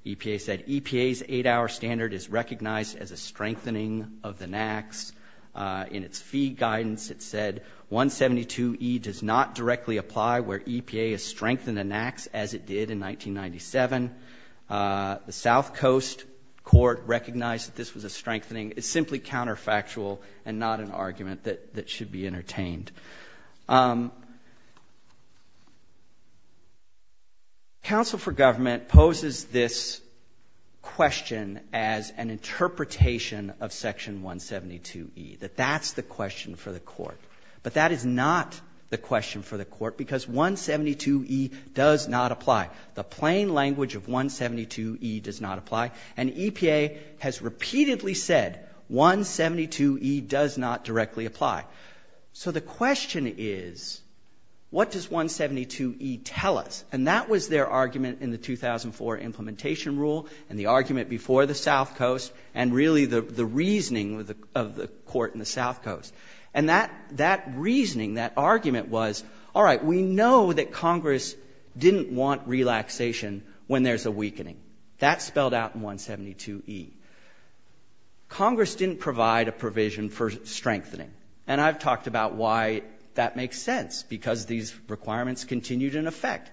EPA said, EPA's eight-hour standard is recognized as a strengthening of the NAAQS. In its fee guidance, it said 172E does not directly apply where EPA has strengthened the NAAQS as it did in 1997. that this was a strengthening. It's simply counterfactual and not an argument that should be entertained. Council for Government poses this question as an interpretation of section 172E, that that's the question for the court. But that is not the question for the court because 172E does not apply. The plain language of 172E does not apply. And EPA has repeatedly said, 172E does not directly apply. So the question is, what does 172E tell us? And that was their argument in the 2004 implementation rule and the argument before the South Coast and really the reasoning of the court in the South Coast. And that reasoning, that argument was, all right, we know that Congress didn't want relaxation when there's a weakening. That's spelled out in 172E. Congress didn't provide a provision for strengthening. And I've talked about why that makes sense because these requirements continued in effect.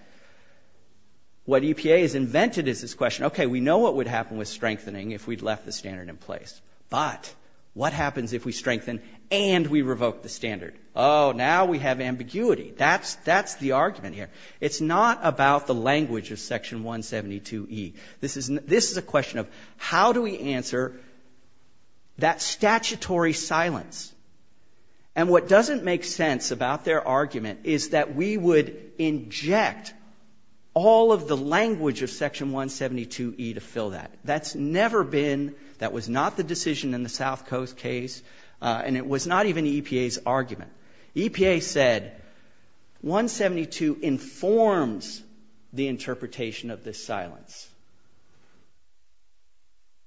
What EPA has invented is this question, okay, we know what would happen with strengthening if we'd left the standard in place. But what happens if we strengthen and we revoke the standard? Oh, now we have ambiguity. That's the argument here. It's not about the language of section 172E. This is a question of how do we answer that statutory silence? And what doesn't make sense about their argument is that we would inject all of the language of section 172E to fill that. That's never been, that was not the decision in the South Coast case. And it was not even EPA's argument. EPA said 172 informs the interpretation of this silence.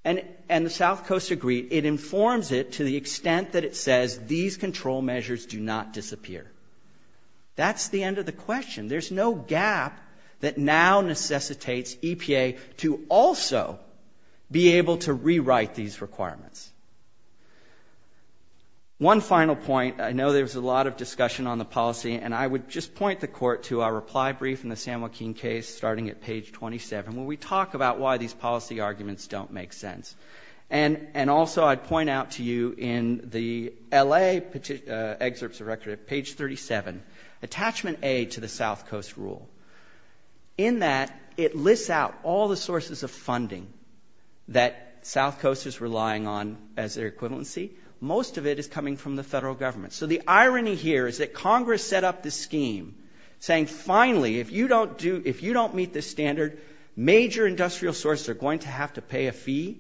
And the South Coast agreed. It informs it to the extent that it says these control measures do not disappear. That's the end of the question. There's no gap that now necessitates EPA to also be able to rewrite these requirements. One final point. I know there's a lot of discussion on the policy and I would just point the court to our reply brief in the Sam Joaquin case starting at page 27 where we talk about why these policy arguments don't make sense. And also I'd point out to you in the LA excerpts of record at page 37, attachment A to the South Coast rule. In that, it lists out all the sources of funding that South Coast is relying on as their equivalency. Most of it is coming from the federal government. So the irony here is that Congress set up this scheme saying, finally, if you don't do, if you don't meet this standard, major industrial sources are going to have to pay a fee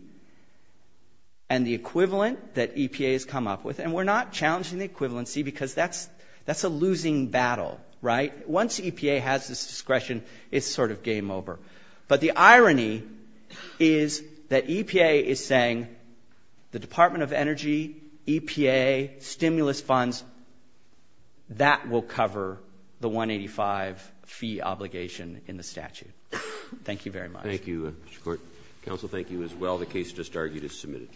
and the equivalent that EPA has come up with. And we're not challenging the equivalency because that's a losing battle, right? Once EPA has this discretion, it's sort of game over. But the irony is that EPA is saying the Department of Energy, EPA, stimulus funds, that will cover the 185 fee obligation in the statute. Thank you very much. Thank you, Mr. Court. Counsel, thank you as well. The case just argued is submitted.